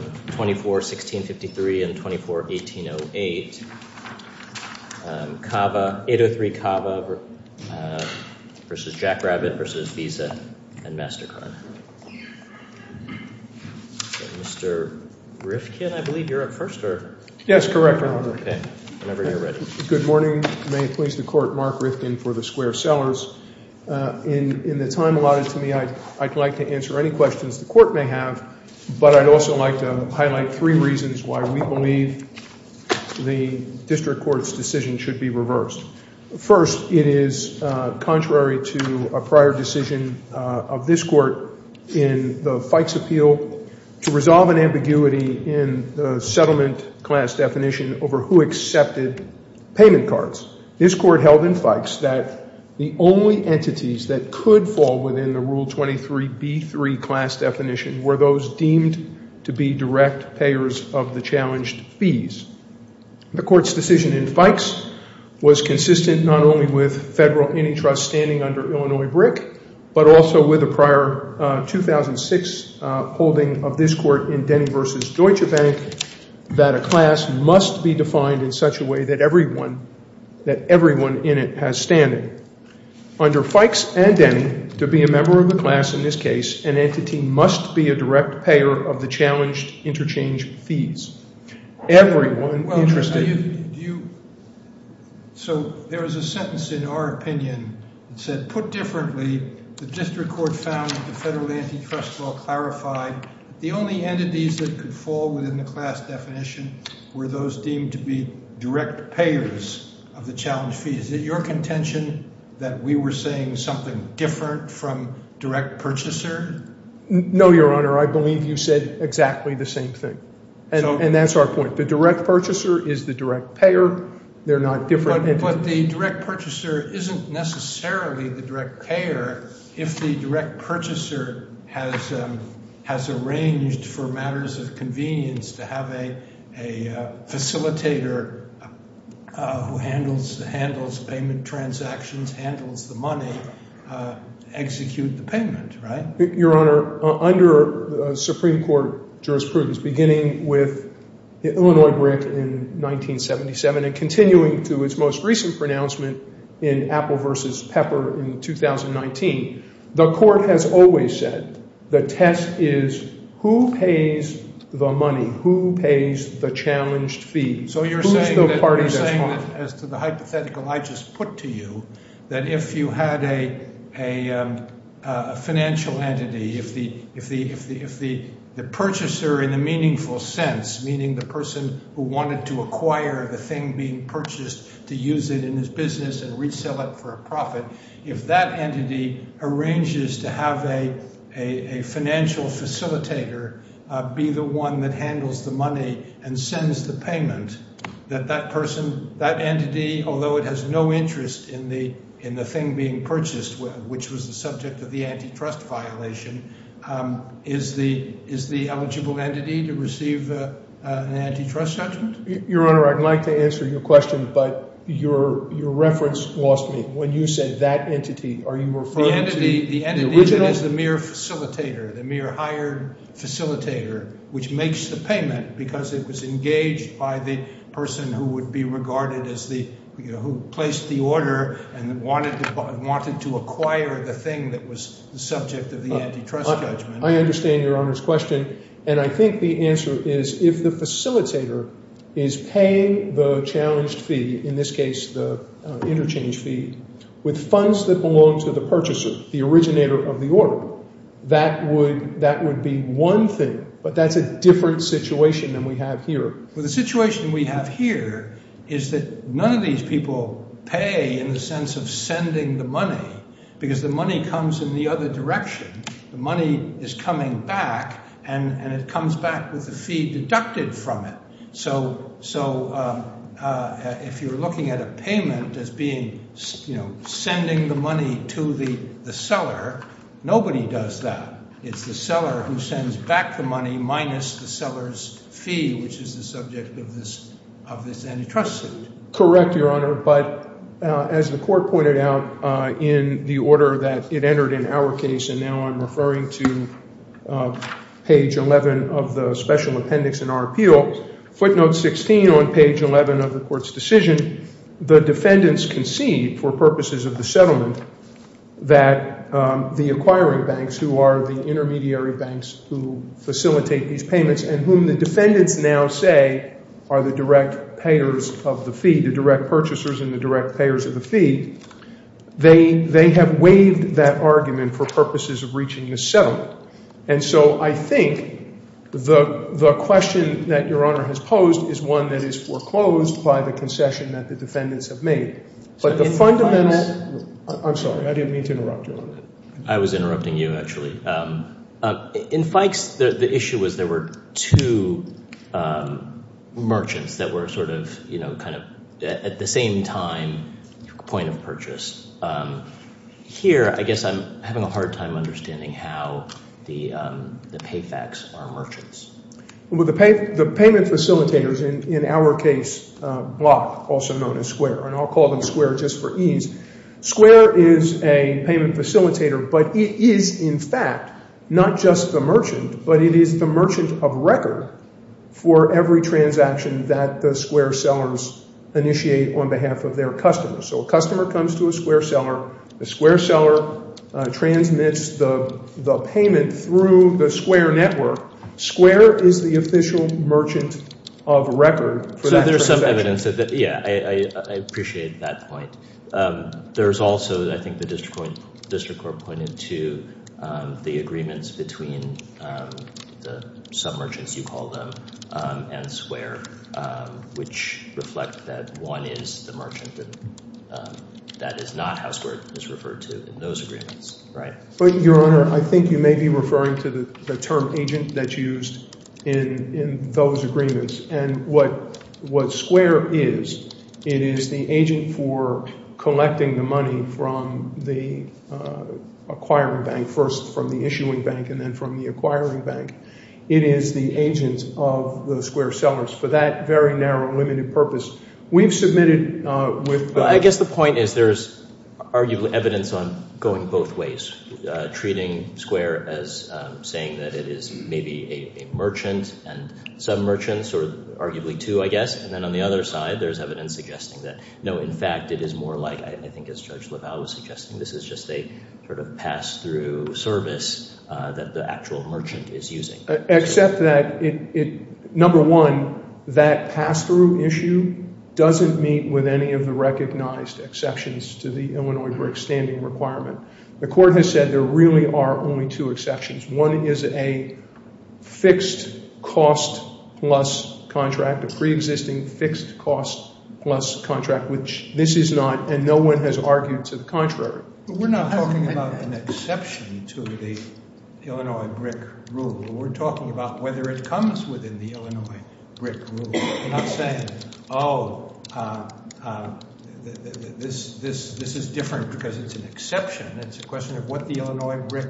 24-16-53 and 24-18-08, 803 Cava vs. Jack Rabbit vs. Visa and MasterCard. Mr. Rifkin, I believe you're up first? Yes, correct, Your Honor. Whenever you're ready. Good morning. May it please the Court, Mark Rifkin for the Square Cellars. In the time allotted to me, I'd like to answer any questions the Court may have, but I'd also like to highlight three reasons why we believe the District Court's decision should be reversed. First, it is contrary to a prior decision of this Court in the Fikes Appeal to resolve an ambiguity in the settlement class definition over who accepted payment cards. This Court held in Fikes that the only entities that could fall within the Rule 23b3 class definition were those deemed to be direct payers of the challenged fees. The Court's decision in Fikes was consistent not only with federal antitrust standing under Illinois BRIC, but also with a prior 2006 holding of this Court in Denny v. Deutsche Bank that a class must be defined in such a way that everyone in it has standing. Under Fikes and Denny, to be a member of the class in this case, an entity must be a direct payer of the challenged interchange fees. Everyone interested— Well, Your Honor, do you—so there was a sentence in our opinion that said, put differently, the District Court found that the federal antitrust law clarified the only entities that could fall within the class definition were those deemed to be direct payers of the challenged fees. Is it your contention that we were saying something different from direct purchaser? No, Your Honor. I believe you said exactly the same thing, and that's our point. The direct purchaser is the direct payer. They're not different entities. But the direct purchaser isn't necessarily the direct payer if the direct purchaser has arranged for matters of convenience to have a facilitator who handles payment transactions, handles the money, execute the payment, right? Your Honor, under Supreme Court jurisprudence, beginning with Illinois brick in 1977 and continuing to its most recent pronouncement in Apple v. Pepper in 2019, the court has always said the test is who pays the money, who pays the challenged fee. So you're saying that as to the hypothetical I just put to you, that if you had a financial entity, if the purchaser in a meaningful sense, meaning the person who wanted to acquire the thing being purchased to use it in his business and resell it for a profit, if that entity arranges to have a financial facilitator be the one that handles the money and sends the payment, that that person, that entity, although it has no interest in the thing being purchased, which was the subject of the antitrust violation, is the eligible entity to receive an antitrust judgment? Your Honor, I'd like to answer your question, but your reference lost me. When you said that entity, are you referring to the original? The entity that is the mere facilitator, the mere hired facilitator, which makes the payment because it was engaged by the person who would be regarded as the – who placed the order and wanted to acquire the thing that was the subject of the antitrust judgment. I understand your Honor's question, and I think the answer is if the facilitator is paying the challenged fee, in this case the interchange fee, with funds that belong to the purchaser, the originator of the order, that would be one thing, but that's a different situation than we have here. Well, the situation we have here is that none of these people pay in the sense of sending the money because the money comes in the other direction. The money is coming back, and it comes back with the fee deducted from it. So if you're looking at a payment as being – sending the money to the seller, nobody does that. It's the seller who sends back the money minus the seller's fee, which is the subject of this antitrust suit. Correct, Your Honor, but as the court pointed out in the order that it entered in our case, and now I'm referring to page 11 of the special appendix in our appeal, footnote 16 on page 11 of the court's decision, the defendants concede for purposes of the settlement that the acquiring banks, who are the intermediary banks who facilitate these payments and whom the defendants now say are the direct payers of the fee, the direct purchasers and the direct payers of the fee, they have waived that argument for purposes of reaching the settlement. And so I think the question that Your Honor has posed is one that is foreclosed by the concession that the defendants have made. But the fundamental – I'm sorry. I didn't mean to interrupt you. I was interrupting you, actually. In Fikes, the issue was there were two merchants that were sort of, you know, kind of at the same time point of purchase. Here, I guess I'm having a hard time understanding how the pay facts are merchants. Well, the payment facilitators in our case block, also known as square, and I'll call them square just for ease. Square is a payment facilitator, but it is, in fact, not just the merchant, but it is the merchant of record for every transaction that the square sellers initiate on behalf of their customers. So a customer comes to a square seller. The square seller transmits the payment through the square network. Square is the official merchant of record for that transaction. Yeah, I appreciate that point. There's also, I think the district court pointed to the agreements between the submergents, you call them, and square, which reflect that one is the merchant and that is not how square is referred to in those agreements, right? Your Honor, I think you may be referring to the term agent that's used in those agreements. And what square is, it is the agent for collecting the money from the acquiring bank, first from the issuing bank, and then from the acquiring bank. It is the agent of the square sellers. For that very narrow, limited purpose, we've submitted with the- I guess the point is there's arguably evidence on going both ways, treating square as saying that it is maybe a merchant and submergents, or arguably two, I guess. And then on the other side, there's evidence suggesting that, no, in fact, it is more like, I think as Judge LaValle was suggesting, this is just a sort of pass-through service that the actual merchant is using. Except that, number one, that pass-through issue doesn't meet with any of the recognized exceptions to the Illinois brick standing requirement. The court has said there really are only two exceptions. One is a fixed cost plus contract, a preexisting fixed cost plus contract, which this is not, and no one has argued to the contrary. We're not talking about an exception to the Illinois brick rule. We're talking about whether it comes within the Illinois brick rule. We're not saying, oh, this is different because it's an exception. It's a question of what the Illinois brick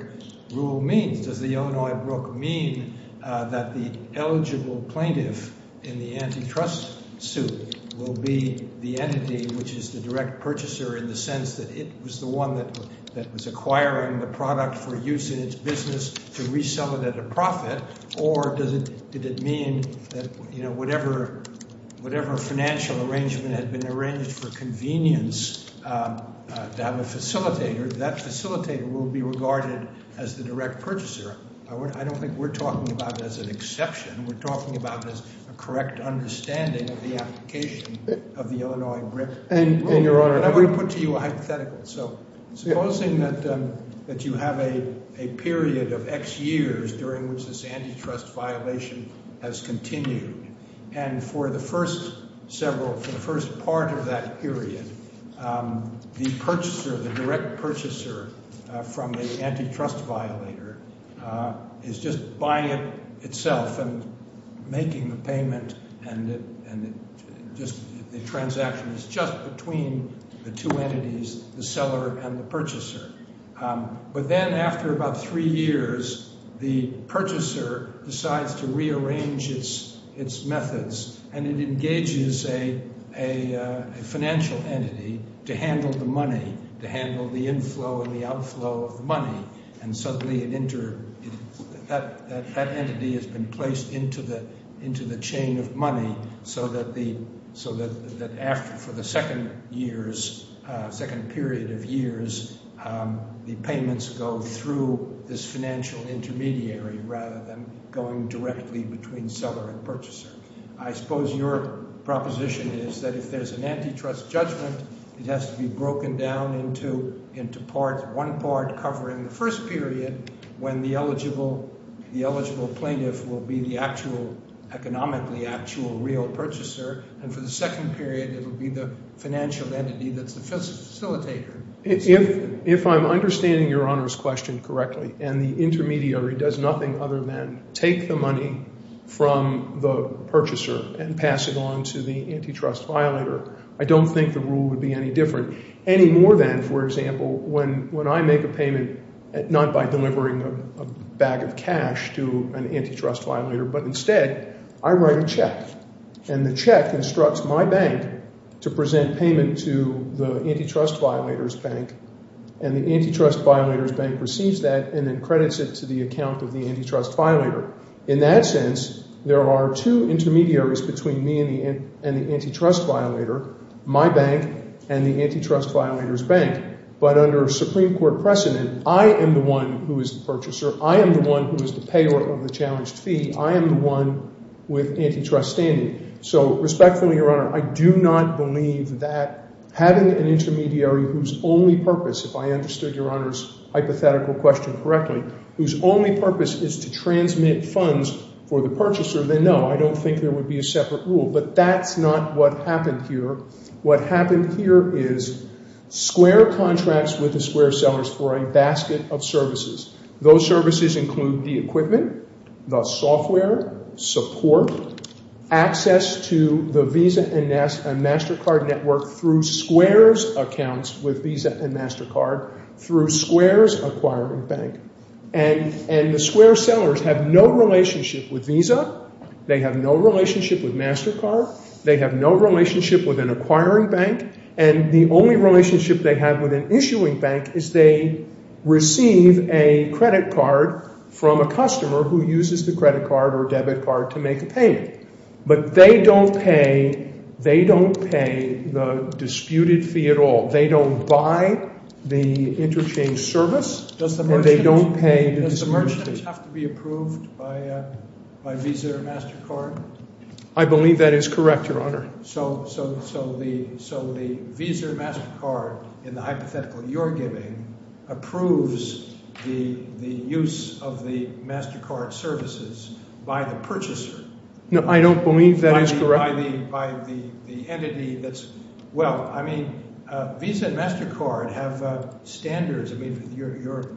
rule means. Does the Illinois brick mean that the eligible plaintiff in the antitrust suit will be the entity which is the direct purchaser in the sense that it was the one that was acquiring the product for use in its business to resell it at a Whatever financial arrangement had been arranged for convenience to have a facilitator, that facilitator will be regarded as the direct purchaser. I don't think we're talking about it as an exception. We're talking about it as a correct understanding of the application of the Illinois brick rule. And I want to put to you a hypothetical. Supposing that you have a period of X years during which this antitrust violation has continued. And for the first several, for the first part of that period, the purchaser, the direct purchaser from the antitrust violator is just buying it itself and making the payment and just the transaction is just between the two entities, the seller and the purchaser. But then after about three years, the purchaser decides to rearrange its methods and it engages a financial entity to handle the money, to handle the inflow and the outflow of money. And suddenly it entered, that entity has been placed into the chain of money so that the, so that after, for the second years, second period of years, the payments go through this financial intermediary rather than going directly between seller and purchaser. I suppose your proposition is that if there's an antitrust judgment, it has to be broken down into parts, one part covering the first period when the purchaser and for the second period it will be the financial entity that's the facilitator. If I'm understanding your Honor's question correctly and the intermediary does nothing other than take the money from the purchaser and pass it on to the antitrust violator, I don't think the rule would be any different. Any more than, for example, when I make a payment, not by delivering a bag of and the check instructs my bank to present payment to the antitrust violator's bank and the antitrust violator's bank receives that and then credits it to the account of the antitrust violator. In that sense, there are two intermediaries between me and the antitrust violator, my bank and the antitrust violator's bank. But under Supreme Court precedent, I am the one who is the purchaser. I am the one who is the payer of the challenged fee. I am the one with antitrust standing. So respectfully, Your Honor, I do not believe that having an intermediary whose only purpose, if I understood Your Honor's hypothetical question correctly, whose only purpose is to transmit funds for the purchaser, then no, I don't think there would be a separate rule. But that's not what happened here. What happened here is square contracts with the square sellers for a basket of services. Those services include the equipment, the software, support, access to the Visa and MasterCard network through square's accounts with Visa and MasterCard through square's acquiring bank. And the square sellers have no relationship with Visa. They have no relationship with MasterCard. They have no relationship with an acquiring bank. And the only relationship they have with an issuing bank is they receive a credit card from a customer who uses the credit card or debit card to make a payment. But they don't pay the disputed fee at all. They don't buy the interchange service and they don't pay the disputed fee. Does the merchant have to be approved by Visa or MasterCard? I believe that is correct, Your Honor. So the Visa or MasterCard, in the hypothetical you're giving, approves the use of the MasterCard services by the purchaser. No, I don't believe that is correct. By the entity that's – well, I mean Visa and MasterCard have standards. I mean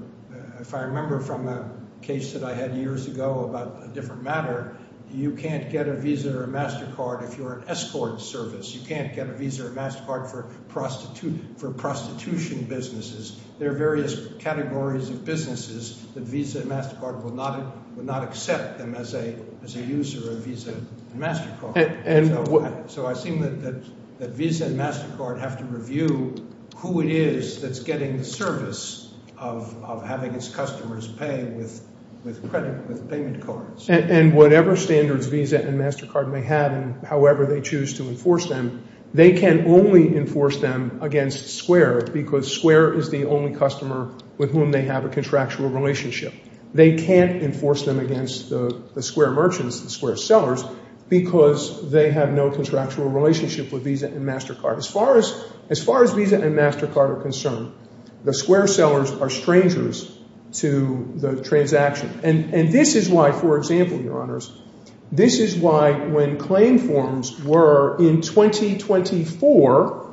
if I remember from a case that I had years ago about a different matter, you can't get a Visa or a MasterCard if you're an escort service. You can't get a Visa or MasterCard for prostitution businesses. There are various categories of businesses that Visa and MasterCard will not accept them as a user of Visa and MasterCard. So I assume that Visa and MasterCard have to review who it is that's getting the service of having its customers pay with payment cards. And whatever standards Visa and MasterCard may have and however they choose to enforce them, they can only enforce them against Square because Square is the only customer with whom they have a contractual relationship. They can't enforce them against the Square merchants, the Square sellers, because they have no contractual relationship with Visa and MasterCard. As far as Visa and MasterCard are concerned, the Square sellers are strangers to the transaction. And this is why, for example, Your Honors, this is why when claim forms were in 2024,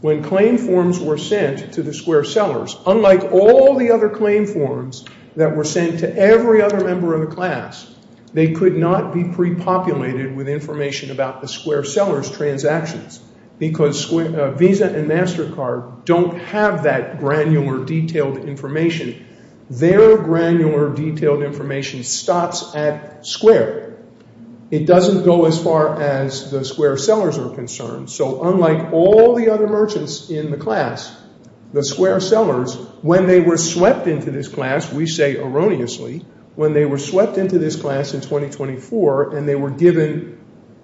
when claim forms were sent to the Square sellers, unlike all the other claim forms that were sent to every other member of the class, they could not be pre-populated with information about the Square sellers' transactions because Visa and MasterCard don't have that granular detailed information. Their granular detailed information stops at Square. It doesn't go as far as the Square sellers are concerned. So unlike all the other merchants in the class, the Square sellers, when they were swept into this class, we say erroneously, when they were swept into this class in 2024 and they were given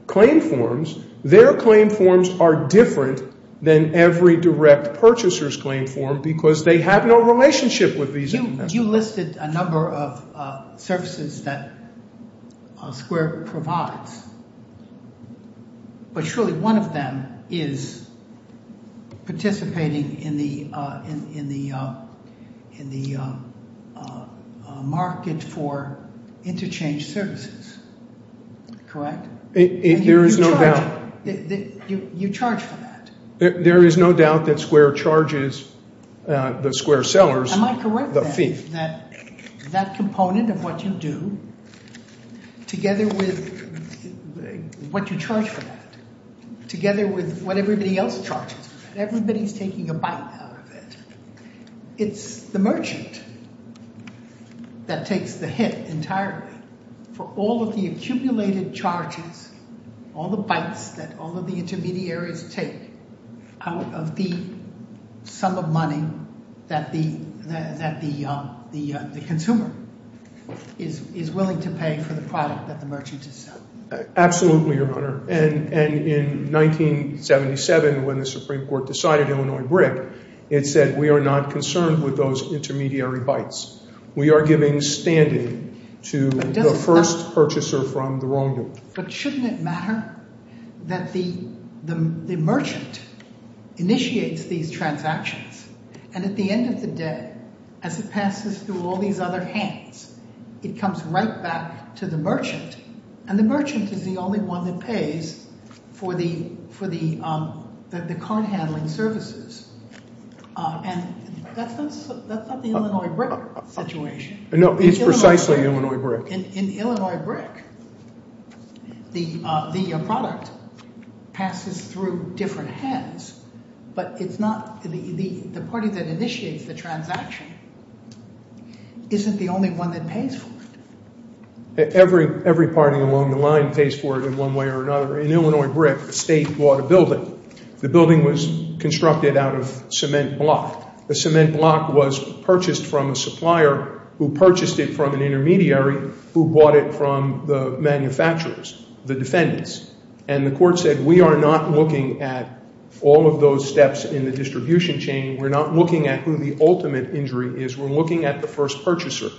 claim forms, their claim forms are different than every direct purchaser's claim form because they have no relationship with Visa and MasterCard. You listed a number of services that Square provides, but surely one of them is participating in the market for interchange services, correct? There is no doubt. You charge for that? There is no doubt that Square charges the Square sellers the fee. Am I correct then that that component of what you do together with what you charge for that, together with what everybody else charges for that, everybody is taking a bite out of it. It's the merchant that takes the hit entirely for all of the accumulated charges, all the bites that all of the intermediaries take out of the sum of money that the consumer is willing to pay for the product that the merchant is selling. Absolutely, Your Honor, and in 1977 when the Supreme Court decided Illinois BRIC, it said we are not concerned with those intermediary bites. We are giving standing to the first purchaser from the wrong group. But shouldn't it matter that the merchant initiates these transactions and at the end of the day, as it passes through all these other hands, it comes right back to the merchant, and the merchant is the only one that pays for the card handling services. And that's not the Illinois BRIC situation. No, it's precisely Illinois BRIC. In Illinois BRIC, the product passes through different hands, but the party that initiates the transaction isn't the only one that pays for it. Every party along the line pays for it in one way or another. In Illinois BRIC, the state bought a building. The building was constructed out of cement block. The cement block was purchased from a supplier who purchased it from an intermediary who bought it from the manufacturers, the defendants. And the court said we are not looking at all of those steps in the distribution chain. We're not looking at who the ultimate injury is. We're looking at the first purchaser.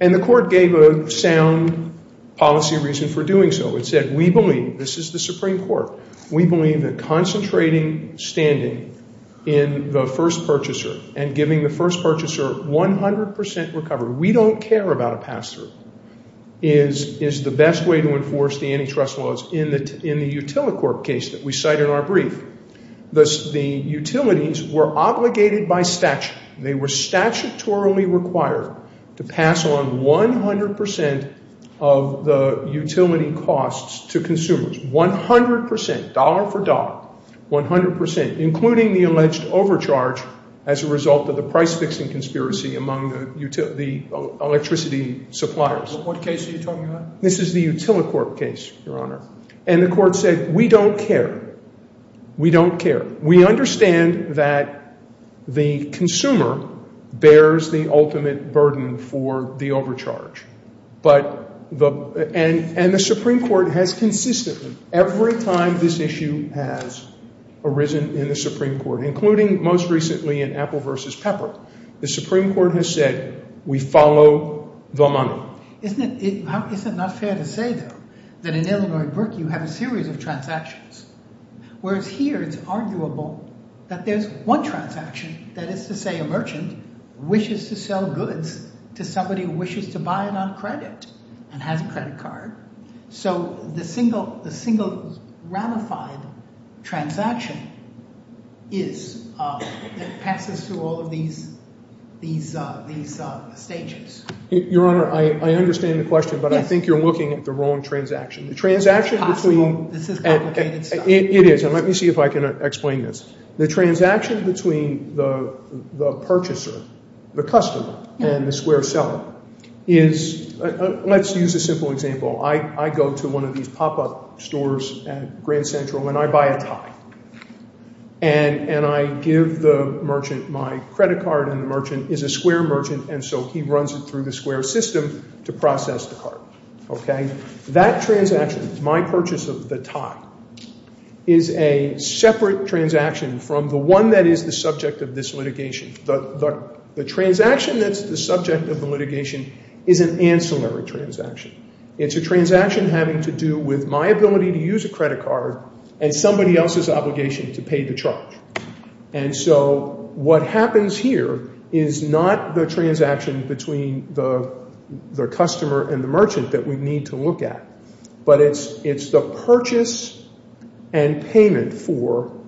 And the court gave a sound policy reason for doing so. It said we believe, this is the Supreme Court, we believe that concentrating standing in the first purchaser and giving the first purchaser 100 percent recovery, we don't care about a pass-through, is the best way to enforce the antitrust laws. In the Utilicorp case that we cite in our brief, the utilities were obligated by statute. They were statutorily required to pass on 100 percent of the utility costs to consumers, 100 percent, dollar for dollar, 100 percent, including the alleged overcharge as a result of the price-fixing conspiracy among the electricity suppliers. What case are you talking about? This is the Utilicorp case, Your Honor. And the court said we don't care. We don't care. We understand that the consumer bears the ultimate burden for the overcharge. And the Supreme Court has consistently, every time this issue has arisen in the Supreme Court, including most recently in Apple v. Pepper, the Supreme Court has said we follow the money. Isn't it not fair to say, though, that in Illinois at Berkeley you have a series of transactions, whereas here it's arguable that there's one transaction, that is to say a merchant wishes to sell goods to somebody who wishes to buy it on credit and has a credit card. So the single ramified transaction is that passes through all of these stages. Your Honor, I understand the question, but I think you're looking at the wrong transaction. The transaction between – This is complicated stuff. It is, and let me see if I can explain this. The transaction between the purchaser, the customer, and the square seller is – let's use a simple example. I go to one of these pop-up stores at Grand Central, and I buy a tie. And I give the merchant my credit card, and the merchant is a square merchant, and so he runs it through the square system to process the card. That transaction, my purchase of the tie, is a separate transaction from the one that is the subject of this litigation. The transaction that's the subject of the litigation is an ancillary transaction. It's a transaction having to do with my ability to use a credit card and somebody else's obligation to pay the charge. And so what happens here is not the transaction between the customer and the merchant that we need to look at, but it's the purchase and payment for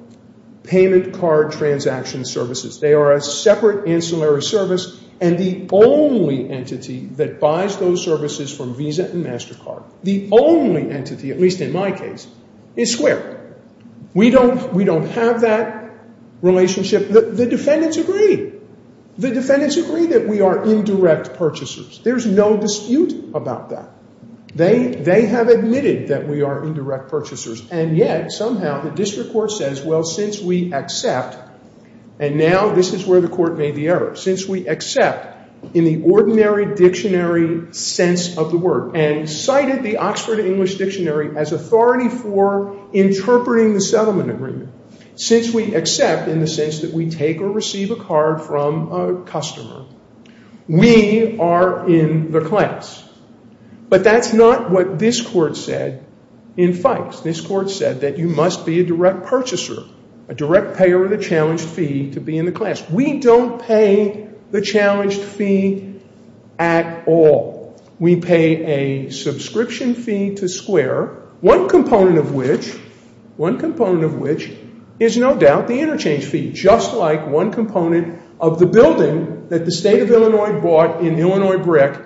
payment card transaction services. They are a separate ancillary service, and the only entity that buys those services from Visa and MasterCard, the only entity, at least in my case, is square. We don't have that relationship. The defendants agree. The defendants agree that we are indirect purchasers. There's no dispute about that. They have admitted that we are indirect purchasers, and yet somehow the district court says, well, since we accept – and now this is where the court made the error – since we accept in the ordinary dictionary sense of the word and cited the Oxford English Dictionary as authority for interpreting the settlement agreement, since we accept in the sense that we take or receive a card from a customer, we are in the class. But that's not what this court said in Fikes. This court said that you must be a direct purchaser, a direct payer of the challenged fee, to be in the class. We don't pay the challenged fee at all. We pay a subscription fee to square, one component of which is no doubt the interchange fee, just like one component of the building that the state of Illinois bought in Illinois BRIC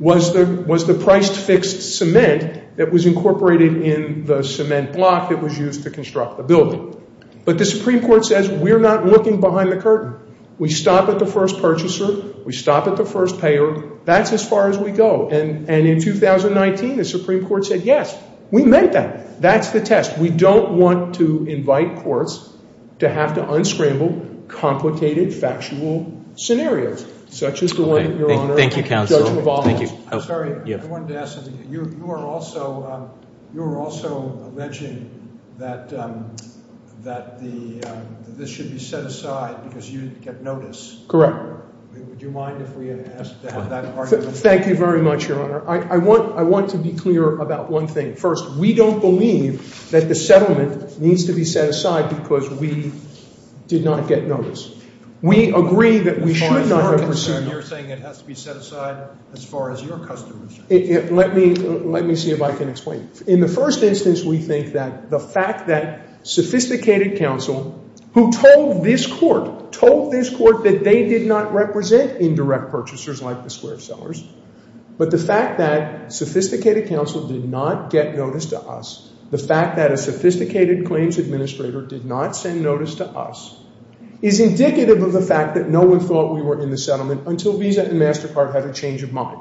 was the priced fixed cement that was incorporated in the cement block that was used to construct the building. But the Supreme Court says we're not looking behind the curtain. We stop at the first purchaser. We stop at the first payer. That's as far as we go. And in 2019, the Supreme Court said, yes, we meant that. That's the test. We don't want to invite courts to have to unscramble complicated factual scenarios such as the one, Your Honor. Thank you, counsel. I'm sorry. I wanted to ask something. You are also alleging that this should be set aside because you get notice. Correct. Would you mind if we ask to have that argument? Thank you very much, Your Honor. I want to be clear about one thing. First, we don't believe that the settlement needs to be set aside because we did not get notice. We agree that we should not have a procedure. You're saying it has to be set aside as far as your customers. Let me see if I can explain. In the first instance, we think that the fact that sophisticated counsel who told this court, told this court that they did not represent indirect purchasers like the square sellers, but the fact that sophisticated counsel did not get notice to us, the fact that a sophisticated claims administrator did not send notice to us, is indicative of the fact that no one thought we were in the settlement until Visa and MasterCard had a change of mind.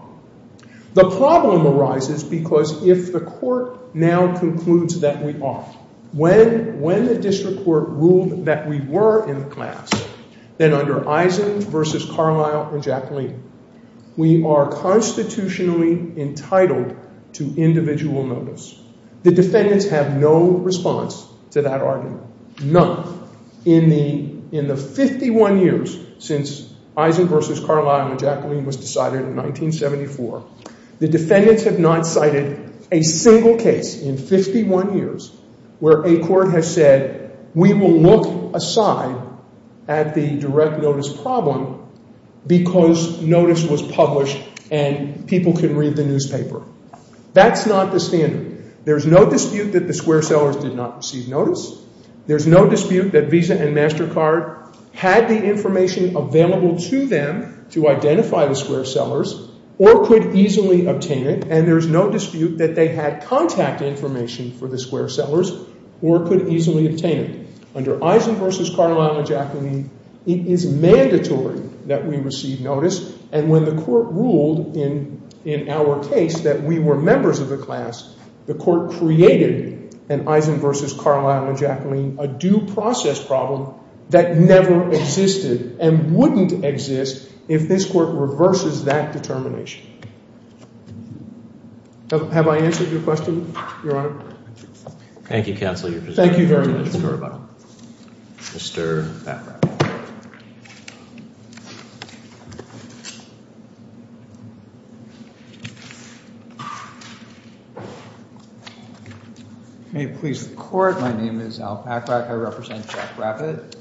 The problem arises because if the court now concludes that we are, when the district court ruled that we were in the class, then under Eisen versus Carlisle or Jacqueline, we are constitutionally entitled to individual notice. The defendants have no response to that argument. In the 51 years since Eisen versus Carlisle and Jacqueline was decided in 1974, the defendants have not cited a single case in 51 years where a court has said, we will look aside at the direct notice problem because notice was published and people can read the newspaper. That's not the standard. There's no dispute that the square sellers did not receive notice. There's no dispute that Visa and MasterCard had the information available to them to identify the square sellers or could easily obtain it. And there's no dispute that they had contact information for the square sellers or could easily obtain it. Under Eisen versus Carlisle and Jacqueline, it is mandatory that we receive notice. And when the court ruled in our case that we were members of the class, the court created an Eisen versus Carlisle and Jacqueline, a due process problem that never existed and wouldn't exist if this court reverses that determination. Have I answered your question, Your Honor? Thank you, Counselor. Thank you very much. May it please the court. My name is Al Packrack. I represent Jack Rabbit.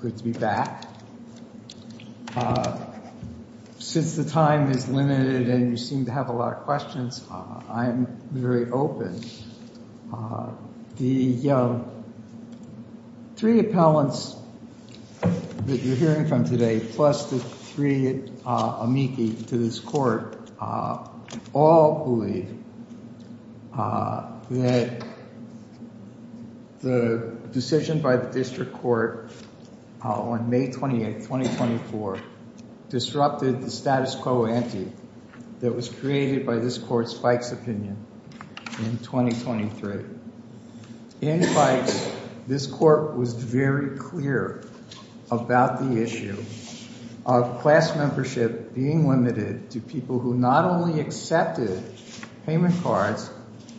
Good to be back. Since the time is limited and you seem to have a lot of questions, I'm very open. The three appellants that you're hearing from today, plus the three amici to this court, all believe that the decision by the district court on May 28th, 2024, disrupted the status quo ante that was created by this court's Bikes opinion in 2023. In Bikes, this court was very clear about the issue of class membership being limited to people who not only accepted payment cards,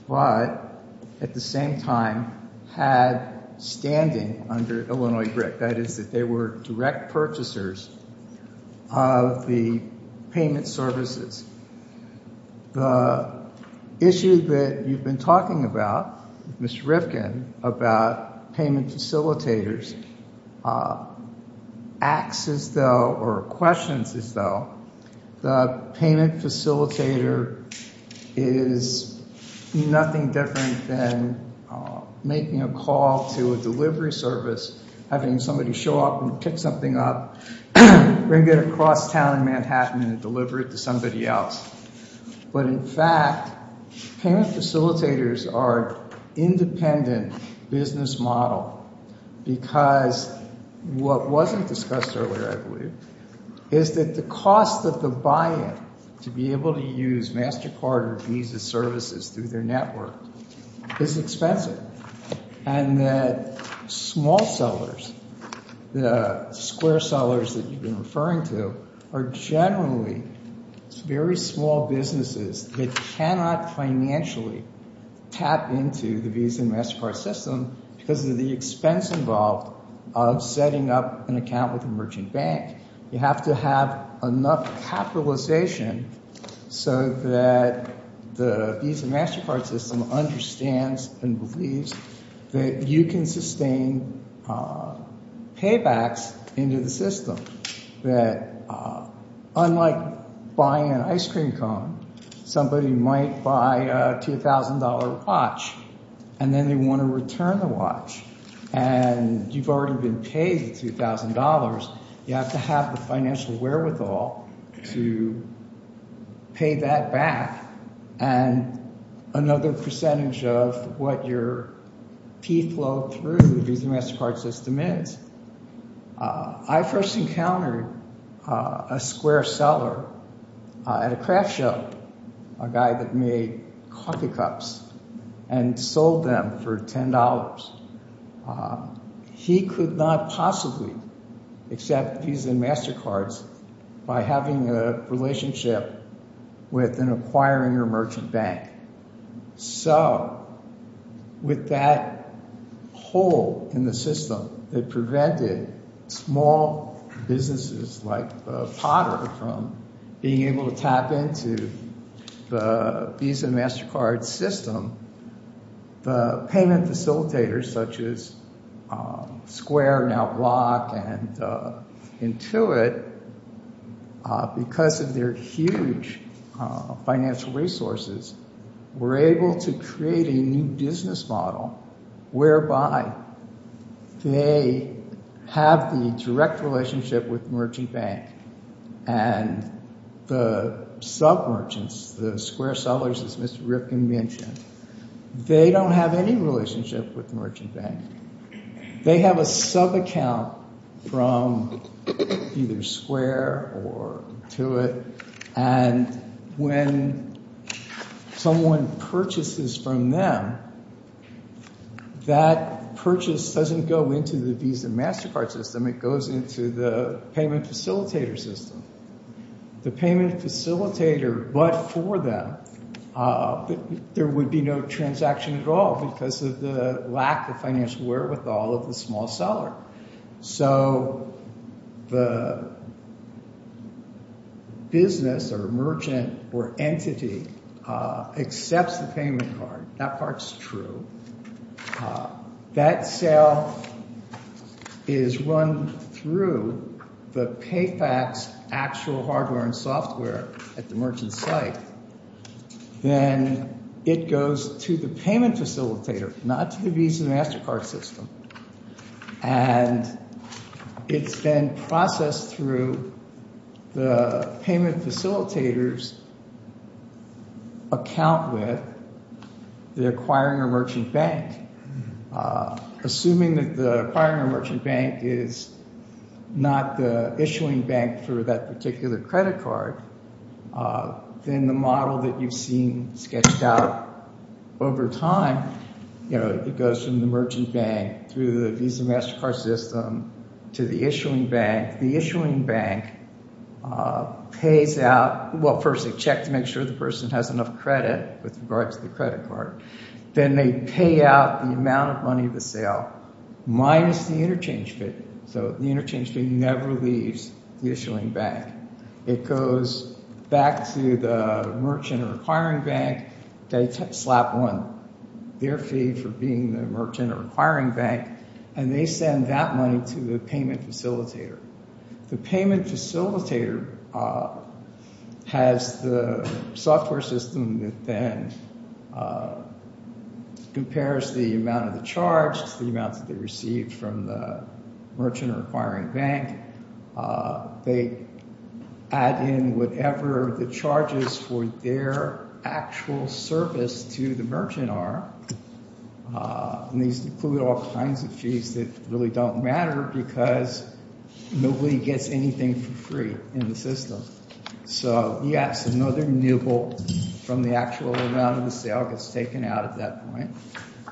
but at the same time had standing under Illinois BRIC. That is that they were direct purchasers of the payment services. The issue that you've been talking about, Mr. Rifkin, about payment facilitators, acts as though, or questions as though, the payment facilitator is nothing different than making a call to a delivery service, having somebody show up and pick something up, bring it across town in Manhattan and deliver it to somebody else. But in fact, payment facilitators are independent business model because what wasn't discussed earlier, I believe, is that the cost of the buy-in to be able to use MasterCard or Visa services through their network is expensive. And that small sellers, the square sellers that you've been referring to, are generally very small businesses that cannot financially tap into the Visa and MasterCard system because of the expense involved of setting up an account with a merchant bank. You have to have enough capitalization so that the Visa and MasterCard system understands and believes that you can sustain paybacks into the system. That unlike buying an ice cream cone, somebody might buy a $2,000 watch and then they want to return the watch. And you've already been paid $2,000. You have to have the financial wherewithal to pay that back. And another percentage of what your fee flow through the Visa and MasterCard system is, I first encountered a square seller at a craft show, a guy that made coffee cups and sold them for $10. He could not possibly accept Visa and MasterCard by having a relationship with an acquiring or merchant bank. So with that hole in the system that prevented small businesses like Potter from being able to tap into the Visa and MasterCard system, the payment facilitators such as Square, now Block, and Intuit, because of their huge financial resources, were able to create a new business model whereby they have the direct relationship with the merchant bank and the sub-merchants, the square sellers, as Mr. Ripken mentioned, they don't have any relationship with the merchant bank. They have a sub-account from either Square or Intuit, and when someone purchases from them, that purchase doesn't go into the Visa and MasterCard system. It goes into the payment facilitator system. The payment facilitator, but for them, there would be no transaction at all because of the lack of financial wherewithal of the small seller. So the business or merchant or entity accepts the payment card. That part's true. That sale is run through the Payfax actual hardware and software at the merchant site. Then it goes to the payment facilitator, not to the Visa and MasterCard system, and it's then processed through the payment facilitator's account with the acquiring or merchant bank. Assuming that the acquiring or merchant bank is not the issuing bank for that particular credit card, then the model that you've seen sketched out over time, it goes from the merchant bank through the Visa and MasterCard system to the issuing bank. The issuing bank pays out. Well, first they check to make sure the person has enough credit with regard to the credit card. Then they pay out the amount of money of the sale minus the interchange fee. So the interchange fee never leaves the issuing bank. It goes back to the merchant or acquiring bank. They slap on their fee for being the merchant or acquiring bank, and they send that money to the payment facilitator. The payment facilitator has the software system that then compares the amount of the charge to the amount that they received from the merchant or acquiring bank. They add in whatever the charges for their actual service to the merchant are, and these include all kinds of fees that really don't matter because nobody gets anything for free in the system. So, yes, another nibble from the actual amount of the sale gets taken out at that point,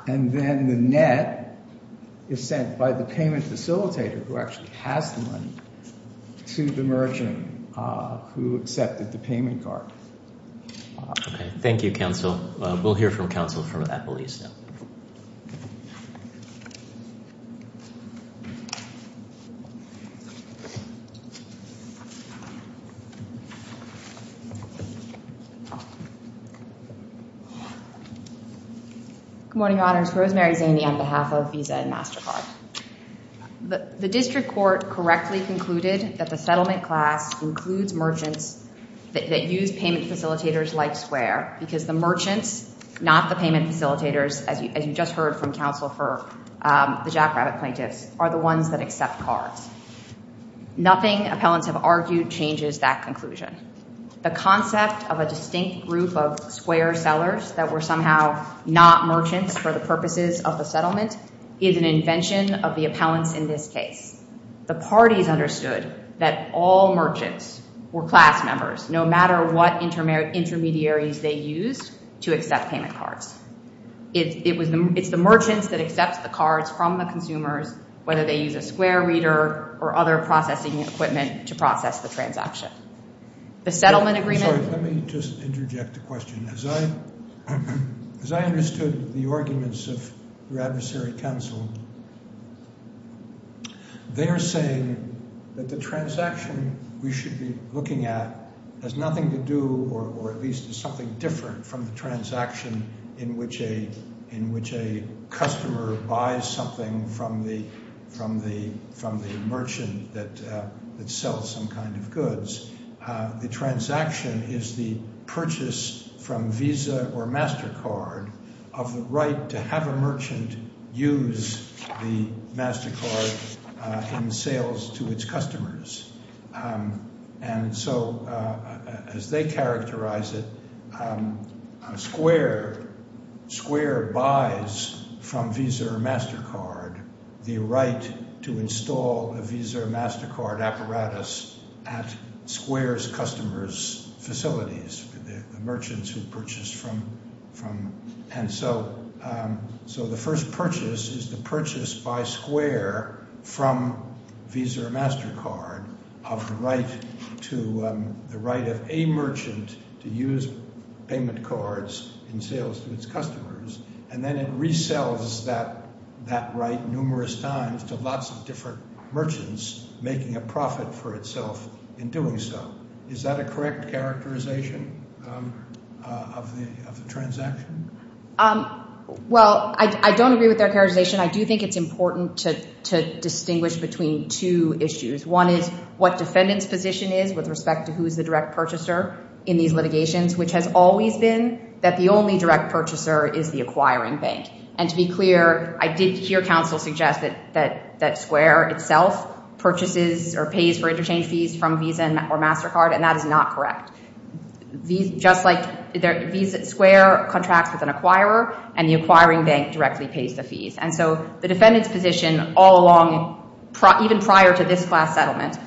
and then the net is sent by the payment facilitator, who actually has the money, to the merchant who accepted the payment card. Okay. Thank you, counsel. We'll hear from counsel from that police now. Good morning, Your Honors. Rosemary Zaney on behalf of Visa and MasterCard. The district court correctly concluded that the settlement class includes merchants that use payment facilitators like Square because the merchants, not the payment facilitators, as you just heard from counsel for the jackrabbit plaintiffs, are the ones that accept cards. Nothing appellants have argued changes that conclusion. The concept of a distinct group of Square sellers that were somehow not merchants for the purposes of the settlement is an invention of the appellants in this case. The parties understood that all merchants were class members, no matter what intermediaries they used to accept payment cards. It's the merchants that accept the cards from the consumers, whether they use a Square reader or other processing equipment to process the transaction. The settlement agreement— Sorry, let me just interject a question. As I understood the arguments of your adversary, counsel, they are saying that the transaction we should be looking at has nothing to do, or at least is something different from the transaction in which a customer buys something from the merchant that sells some kind of goods. The transaction is the purchase from Visa or MasterCard of the right to have a merchant use the MasterCard in sales to its customers. And so, as they characterize it, Square buys from Visa or MasterCard the right to install a Visa or MasterCard apparatus at Square's customers' facilities, the merchants who purchase from— And so, the first purchase is the purchase by Square from Visa or MasterCard of the right of a merchant to use payment cards in sales to its customers, and then it resells that right numerous times to lots of different merchants, making a profit for itself in doing so. Is that a correct characterization of the transaction? Well, I don't agree with their characterization. I do think it's important to distinguish between two issues. One is what defendant's position is with respect to who is the direct purchaser in these litigations, which has always been that the only direct purchaser is the acquiring bank. And to be clear, I did hear counsel suggest that Square itself purchases or pays for interchange fees from Visa or MasterCard, and that is not correct. Just like Visa—Square contracts with an acquirer, and the acquiring bank directly pays the fees. And so, the defendant's position all along, even prior to this class settlement,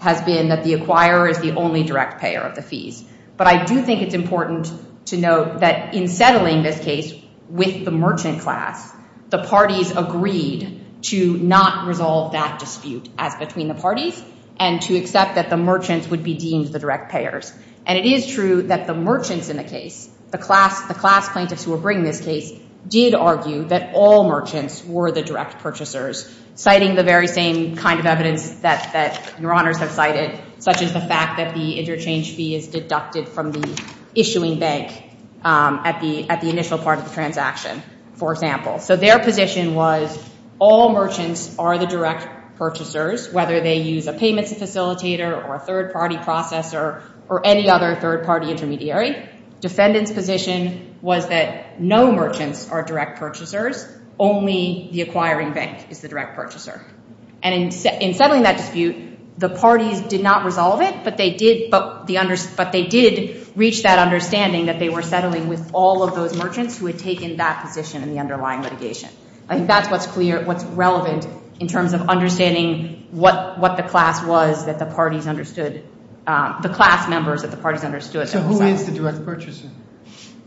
has been that the acquirer is the only direct payer of the fees. But I do think it's important to note that in settling this case with the merchant class, the parties agreed to not resolve that dispute as between the parties, and to accept that the merchants would be deemed the direct payers. And it is true that the merchants in the case, the class plaintiffs who were bringing this case, did argue that all merchants were the direct purchasers, citing the very same kind of evidence that Your Honors have cited, such as the fact that the interchange fee is deducted from the issuing bank at the initial part of the transaction, for example. So their position was all merchants are the direct purchasers, whether they use a payments facilitator or a third-party processor or any other third-party intermediary. Defendant's position was that no merchants are direct purchasers, only the acquiring bank is the direct purchaser. And in settling that dispute, the parties did not resolve it, but they did reach that understanding that they were settling with all of those merchants who had taken that position in the underlying litigation. I think that's what's clear, what's relevant in terms of understanding what the class was that the parties understood, the class members that the parties understood. So who is the direct purchaser?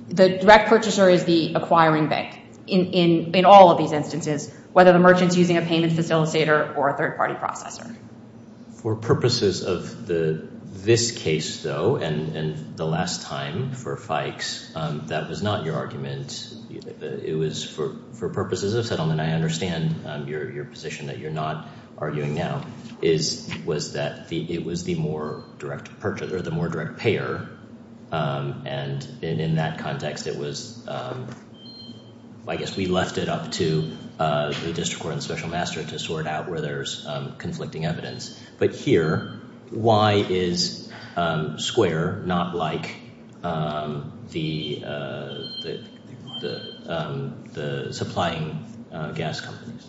The direct purchaser is the acquiring bank in all of these instances, whether the merchant's using a payments facilitator or a third-party processor. For purposes of this case, though, and the last time for Fikes, that was not your argument. It was for purposes of settlement. I understand your position that you're not arguing now, was that it was the more direct payer. And in that context, it was, I guess we left it up to the district court and the special master to sort out where there's conflicting evidence. But here, why is Square not like the supplying gas companies?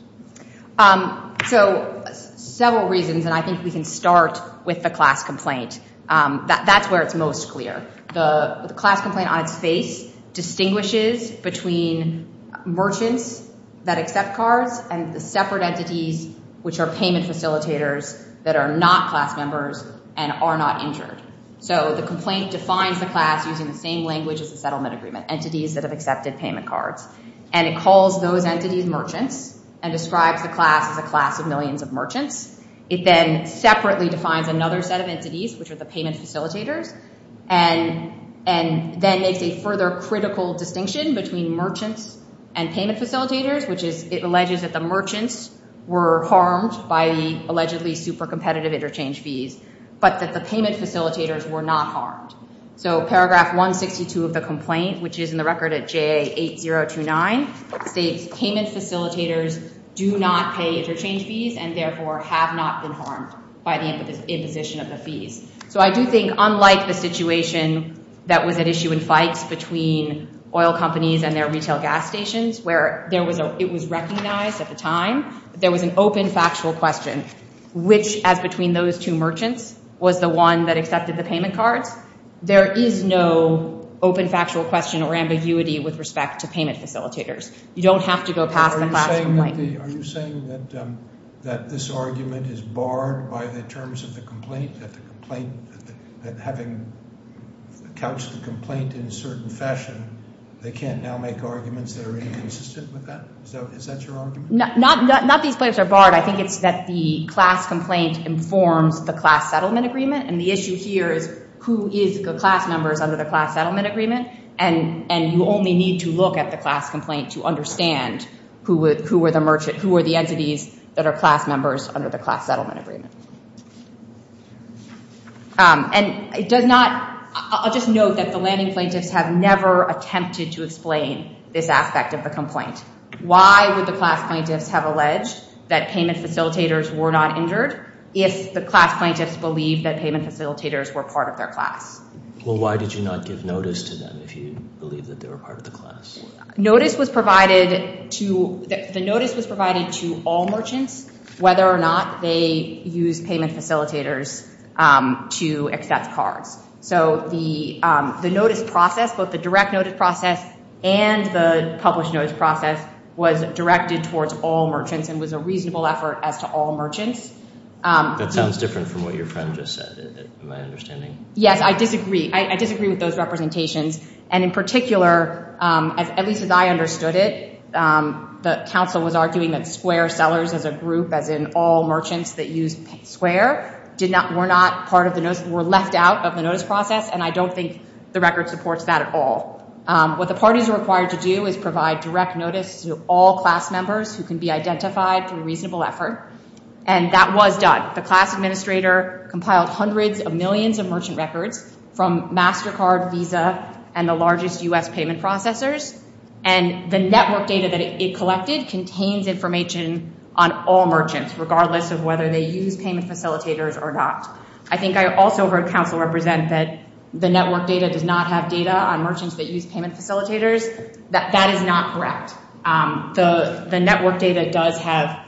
So several reasons, and I think we can start with the class complaint. That's where it's most clear. The class complaint on its face distinguishes between merchants that accept cards and the separate entities which are payment facilitators that are not class members and are not injured. So the complaint defines the class using the same language as the settlement agreement, entities that have accepted payment cards. And it calls those entities merchants and describes the class as a class of millions of merchants. It then separately defines another set of entities, which are the payment facilitators, and then makes a further critical distinction between merchants and payment facilitators, which is it alleges that the merchants were harmed by the allegedly super competitive interchange fees, but that the payment facilitators were not harmed. So paragraph 162 of the complaint, which is in the record at JA8029, states payment facilitators do not pay interchange fees and therefore have not been harmed by the imposition of the fees. So I do think, unlike the situation that was at issue in Fikes between oil companies and their retail gas stations, where it was recognized at the time, there was an open factual question, which, as between those two merchants, was the one that accepted the payment cards. There is no open factual question or ambiguity with respect to payment facilitators. You don't have to go past the class complaint. Are you saying that this argument is barred by the terms of the complaint, that having couched the complaint in a certain fashion, they can't now make arguments that are inconsistent with that? Is that your argument? Not that these claims are barred. I think it's that the class complaint informs the class settlement agreement, and the issue here is who is the class members under the class settlement agreement, and you only need to look at the class complaint to understand who are the entities that are class members under the class settlement agreement. I'll just note that the landing plaintiffs have never attempted to explain this aspect of the complaint. Why would the class plaintiffs have alleged that payment facilitators were not injured if the class plaintiffs believed that payment facilitators were part of their class? Well, why did you not give notice to them if you believed that they were part of the class? Notice was provided to all merchants whether or not they used payment facilitators to accept cards. So the notice process, both the direct notice process and the published notice process, was directed towards all merchants and was a reasonable effort as to all merchants. That sounds different from what your friend just said, in my understanding. Yes, I disagree. I disagree with those representations. And in particular, at least as I understood it, the counsel was arguing that square sellers as a group, as in all merchants that use square, were left out of the notice process, and I don't think the record supports that at all. What the parties are required to do is provide direct notice to all class members who can be identified through reasonable effort, and that was done. The class administrator compiled hundreds of millions of merchant records from MasterCard, Visa, and the largest U.S. payment processors, and the network data that it collected contains information on all merchants, regardless of whether they use payment facilitators or not. I think I also heard counsel represent that the network data does not have data on merchants that use payment facilitators. That is not correct. The network data does have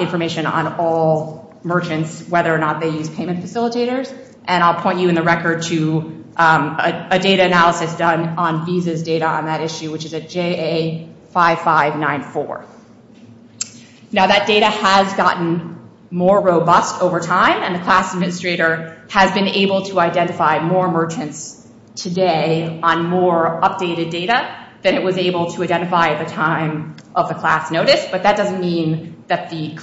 information on all merchants, whether or not they use payment facilitators, and I'll point you in the record to a data analysis done on Visa's data on that issue, which is a JA5594. Now, that data has gotten more robust over time, and the class administrator has been able to identify more merchants today on more updated data than it was able to identify at the time of the class notice, but that doesn't mean that at the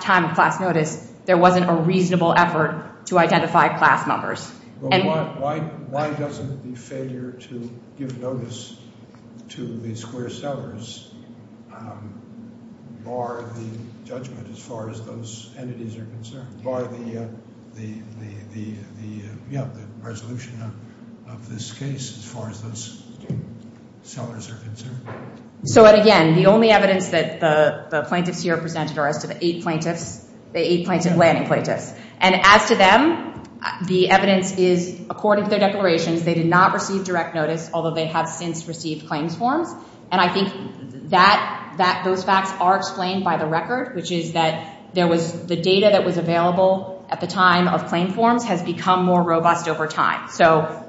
time of the class notice there wasn't a reasonable effort to identify class members. Why doesn't the failure to give notice to the square sellers bar the judgment as far as those entities are concerned, bar the resolution of this case as far as those sellers are concerned? So, again, the only evidence that the plaintiffs here presented are as to the eight plaintiffs, the eight landing plaintiffs, and as to them, the evidence is, according to their declarations, they did not receive direct notice, although they have since received claims forms, and I think those facts are explained by the record, which is that the data that was available at the time of claim forms has become more robust over time. So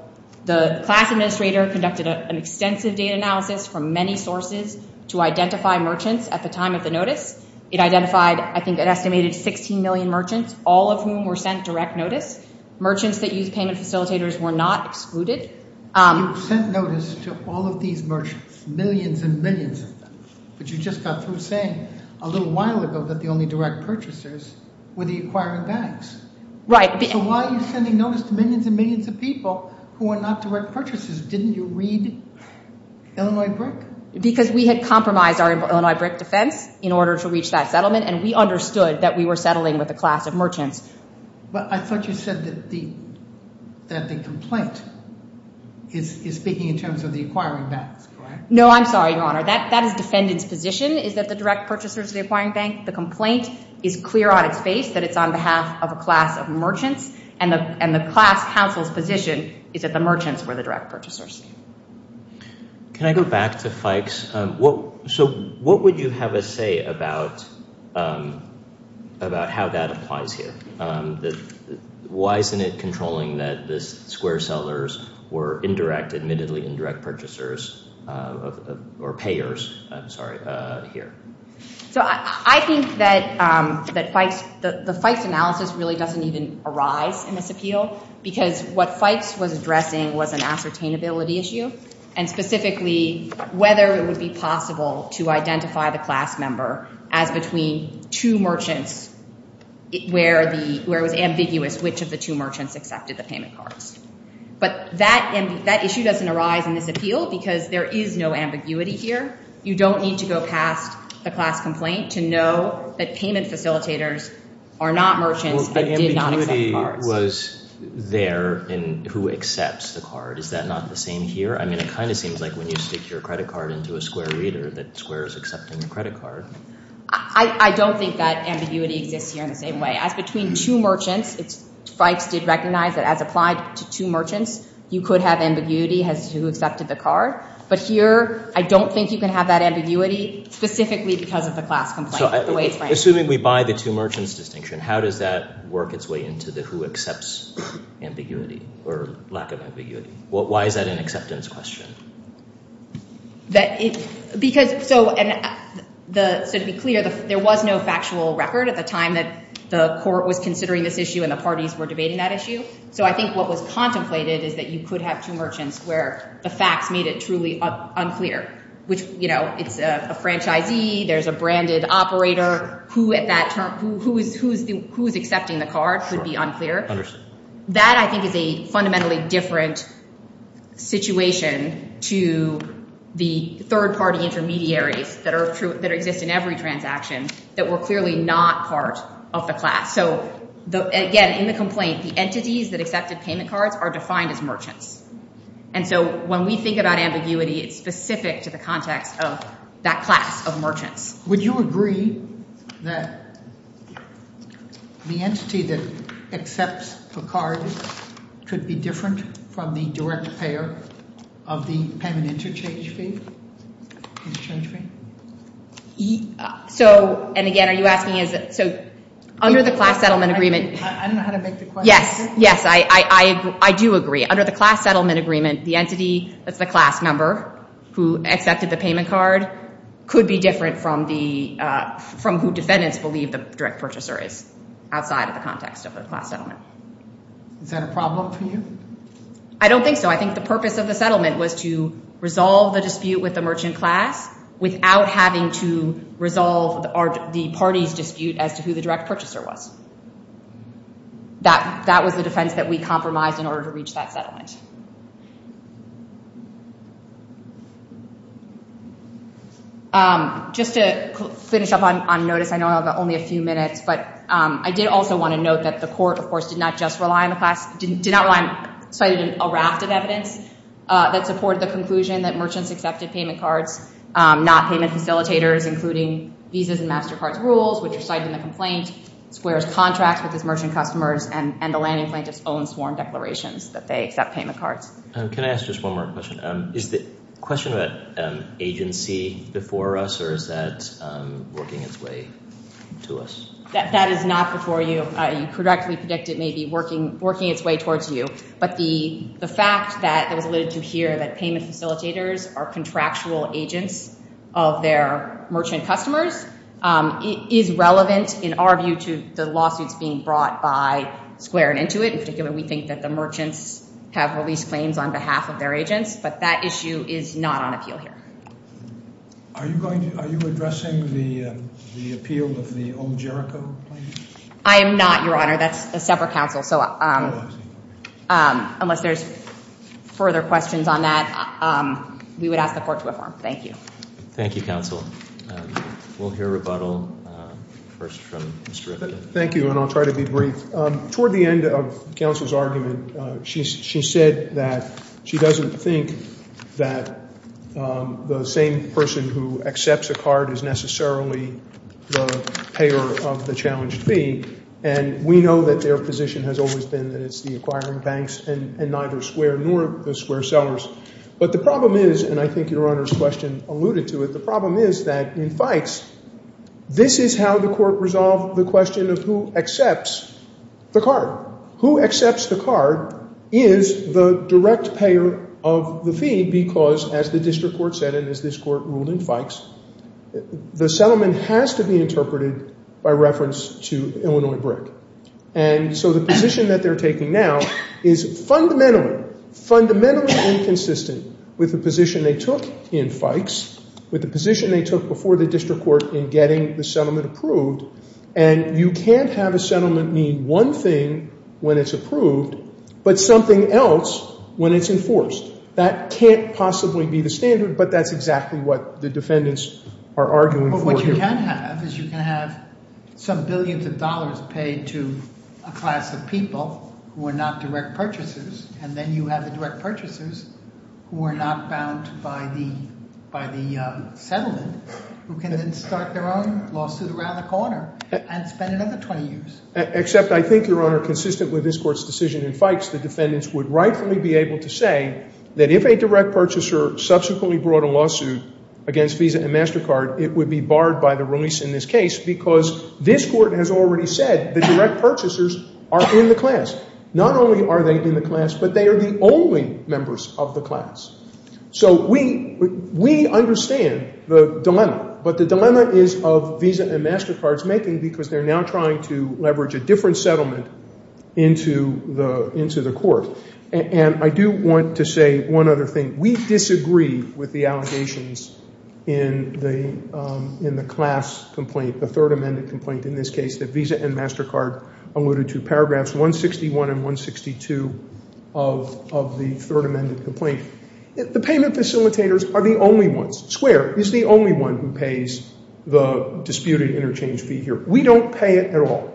the class administrator conducted an extensive data analysis from many sources to identify merchants at the time of the notice. It identified, I think, an estimated 16 million merchants, all of whom were sent direct notice. Merchants that used payment facilitators were not excluded. You sent notice to all of these merchants, millions and millions of them, but you just got through saying a little while ago that the only direct purchasers were the acquiring banks. Right. So why are you sending notice to millions and millions of people who are not direct purchasers? Didn't you read Illinois BRIC? Because we had compromised our Illinois BRIC defense in order to reach that settlement, and we understood that we were settling with a class of merchants. But I thought you said that the complaint is speaking in terms of the acquiring banks, correct? No, I'm sorry, Your Honor. That is defendant's position, is that the direct purchasers are the acquiring bank. The complaint is clear on its face that it's on behalf of a class of merchants, and the class counsel's position is that the merchants were the direct purchasers. Can I go back to Fikes? So what would you have us say about how that applies here? Why isn't it controlling that the square sellers were indirect, admittedly indirect purchasers or payers, I'm sorry, here? So I think that the Fikes analysis really doesn't even arise in this appeal because what Fikes was addressing was an ascertainability issue, and specifically whether it would be possible to identify the class member as between two merchants where it was ambiguous which of the two merchants accepted the payment cards. But that issue doesn't arise in this appeal because there is no ambiguity here. You don't need to go past the class complaint to know that payment facilitators are not merchants that did not accept the cards. But ambiguity was there in who accepts the card. Is that not the same here? I mean, it kind of seems like when you stick your credit card into a square reader that the square is accepting the credit card. I don't think that ambiguity exists here in the same way. As between two merchants, Fikes did recognize that as applied to two merchants, you could have ambiguity as to who accepted the card. But here, I don't think you can have that ambiguity specifically because of the class complaint. Assuming we buy the two merchants distinction, how does that work its way into the who accepts ambiguity or lack of ambiguity? Why is that an acceptance question? So to be clear, there was no factual record at the time that the court was considering this issue and the parties were debating that issue. So I think what was contemplated is that you could have two merchants where the facts made it truly unclear, which, you know, it's a franchisee, there's a branded operator, who is accepting the card could be unclear. That, I think, is a fundamentally different situation to the third-party intermediaries that exist in every transaction that were clearly not part of the class. So again, in the complaint, the entities that accepted payment cards are defined as merchants. And so when we think about ambiguity, it's specific to the context of that class of merchants. Would you agree that the entity that accepts the card could be different from the direct payer of the payment interchange fee? Interchange fee? So, and again, are you asking is it, so under the class settlement agreement. I don't know how to make the question. Yes, yes, I do agree. Under the class settlement agreement, the entity that's the class member who accepted the payment card could be different from the, from who defendants believe the direct purchaser is outside of the context of the class settlement. Is that a problem for you? I don't think so. I think the purpose of the settlement was to resolve the dispute with the merchant class without having to resolve the party's dispute as to who the direct purchaser was. That was the defense that we compromised in order to reach that settlement. Just to finish up on notice, I know I only have a few minutes, but I did also want to note that the court, of course, did not just rely on the class, did not rely on, cited a raft of evidence that supported the conclusion that merchants accepted payment cards, not payment facilitators, including visas and MasterCard rules, which are cited in the complaint, squares contracts with his merchant customers, and the landing plaintiff's own sworn declarations that they accept payment cards. Can I ask just one more question? Is the question about agency before us, or is that working its way to us? That is not before you. You correctly predict it may be working its way towards you, but the fact that it was alluded to here that payment facilitators are contractual agents of their merchant customers is relevant, in our view, to the lawsuits being brought by Square and Intuit. In particular, we think that the merchants have released claims on behalf of their agents, but that issue is not on appeal here. Are you addressing the appeal of the Omjerica claim? I am not, Your Honor. That's a separate counsel, so unless there's further questions on that, we would ask the court to affirm. Thank you. Thank you, counsel. We'll hear rebuttal first from Mr. Rivkin. Thank you, and I'll try to be brief. Toward the end of counsel's argument, she said that she doesn't think that the same person who accepts a card is necessarily the payer of the challenged fee, and we know that their position has always been that it's the acquiring banks and neither Square nor the Square sellers. But the problem is, and I think Your Honor's question alluded to it, the problem is that in Fikes, this is how the court resolved the question of who accepts the card. Who accepts the card is the direct payer of the fee because, as the district court said, and as this court ruled in Fikes, the settlement has to be interpreted by reference to Illinois BRIC. And so the position that they're taking now is fundamentally, fundamentally inconsistent with the position they took in Fikes, with the position they took before the district court in getting the settlement approved, and you can't have a settlement mean one thing when it's approved but something else when it's enforced. That can't possibly be the standard, but that's exactly what the defendants are arguing for here. What you can have is you can have some billions of dollars paid to a class of people who are not direct purchasers, and then you have the direct purchasers who are not bound by the settlement who can then start their own lawsuit around the corner and spend another 20 years. Except I think, Your Honor, consistent with this court's decision in Fikes, the defendants would rightfully be able to say that if a direct purchaser subsequently brought a lawsuit against Visa and MasterCard, it would be barred by the release in this case because this court has already said the direct purchasers are in the class. Not only are they in the class, but they are the only members of the class. So we understand the dilemma, but the dilemma is of Visa and MasterCard's making because they're now trying to leverage a different settlement into the court. And I do want to say one other thing. We disagree with the allegations in the class complaint, the Third Amendment complaint in this case, that Visa and MasterCard alluded to, paragraphs 161 and 162 of the Third Amendment complaint. The payment facilitators are the only ones. Square is the only one who pays the disputed interchange fee here. We don't pay it at all.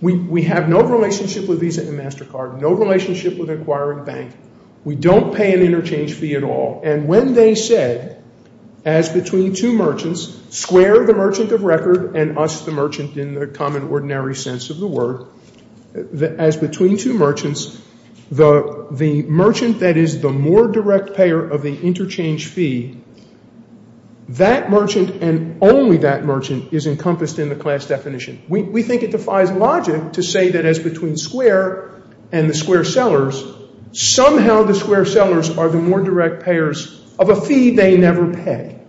We have no relationship with Visa and MasterCard, no relationship with Acquiring Bank. We don't pay an interchange fee at all. And when they said, as between two merchants, Square, the merchant of record, and us, the merchant in the common ordinary sense of the word, as between two merchants, the merchant that is the more direct payer of the interchange fee, that merchant and only that merchant is encompassed in the class definition. We think it defies logic to say that as between Square and the Square sellers, somehow the Square sellers are the more direct payers of a fee they never pay.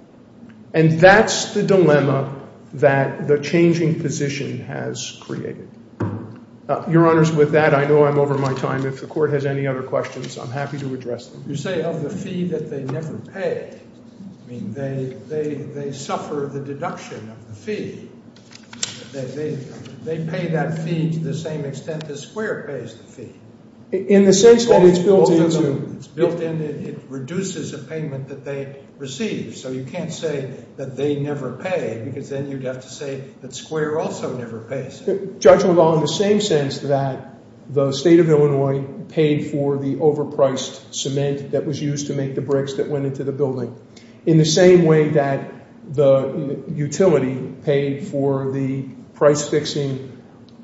And that's the dilemma that the changing position has created. Your Honors, with that, I know I'm over my time. If the Court has any other questions, I'm happy to address them. You say of the fee that they never pay. I mean, they suffer the deduction of the fee. They pay that fee to the same extent that Square pays the fee. In the sense that it's built into – It's built in. It reduces the payment that they receive. So you can't say that they never pay because then you'd have to say that Square also never pays. Judging it all in the same sense that the State of Illinois paid for the overpriced cement that was used to make the bricks that went into the building, in the same way that the utility paid for the price-fixing,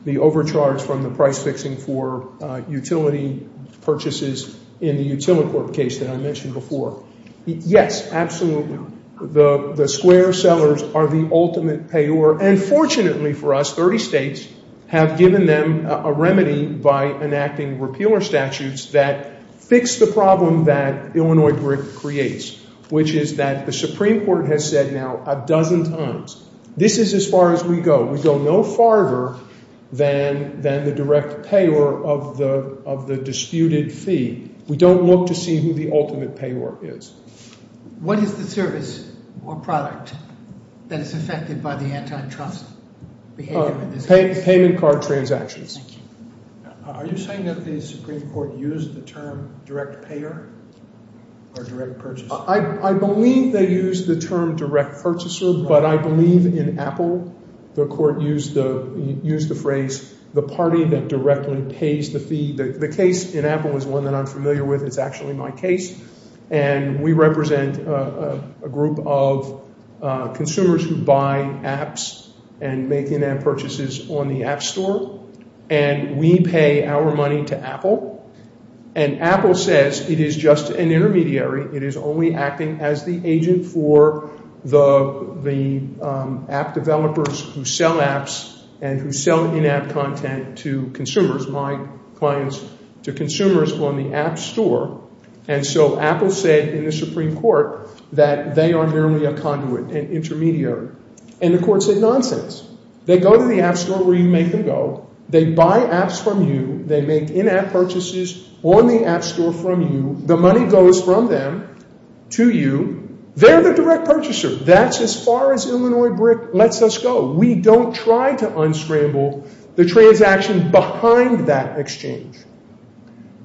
the overcharge from the price-fixing for utility purchases in the Utility Corp case that I mentioned before. Yes, absolutely. The Square sellers are the ultimate payer. And fortunately for us, 30 states have given them a remedy by enacting repealer statutes that fix the problem that Illinois brick creates, which is that the Supreme Court has said now a dozen times, this is as far as we go. We go no farther than the direct payer of the disputed fee. We don't look to see who the ultimate payer is. What is the service or product that is affected by the antitrust behavior in this case? Payment card transactions. Thank you. Are you saying that the Supreme Court used the term direct payer or direct purchaser? I believe they used the term direct purchaser, but I believe in Apple the Court used the phrase the party that directly pays the fee. The case in Apple is one that I'm familiar with. It's actually my case. And we represent a group of consumers who buy apps and make in-app purchases on the App Store. And we pay our money to Apple. And Apple says it is just an intermediary. It is only acting as the agent for the app developers who sell apps and who sell in-app content to consumers, my clients, to consumers on the App Store. And so Apple said in the Supreme Court that they are merely a conduit, an intermediary. And the Court said nonsense. They go to the App Store where you make them go. They buy apps from you. They make in-app purchases on the App Store from you. The money goes from them to you. They're the direct purchaser. That's as far as Illinois BRIC lets us go. We don't try to unscramble the transaction behind that exchange.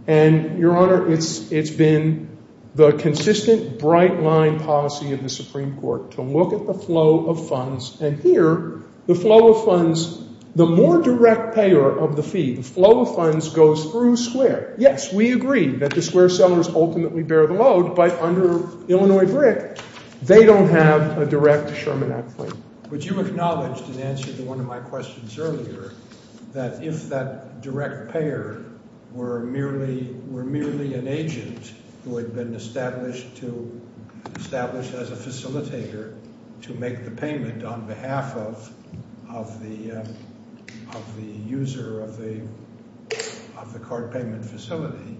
And, Your Honor, it's been the consistent bright-line policy of the Supreme Court to look at the flow of funds. And here the flow of funds, the more direct payer of the fee, the flow of funds goes through Square. Yes, we agree that the Square sellers ultimately bear the load, but under Illinois BRIC they don't have a direct Sherman Act claim. But you acknowledged in answer to one of my questions earlier that if that direct payer were merely an agent who had been established as a facilitator to make the payment on behalf of the user of the card payment facility,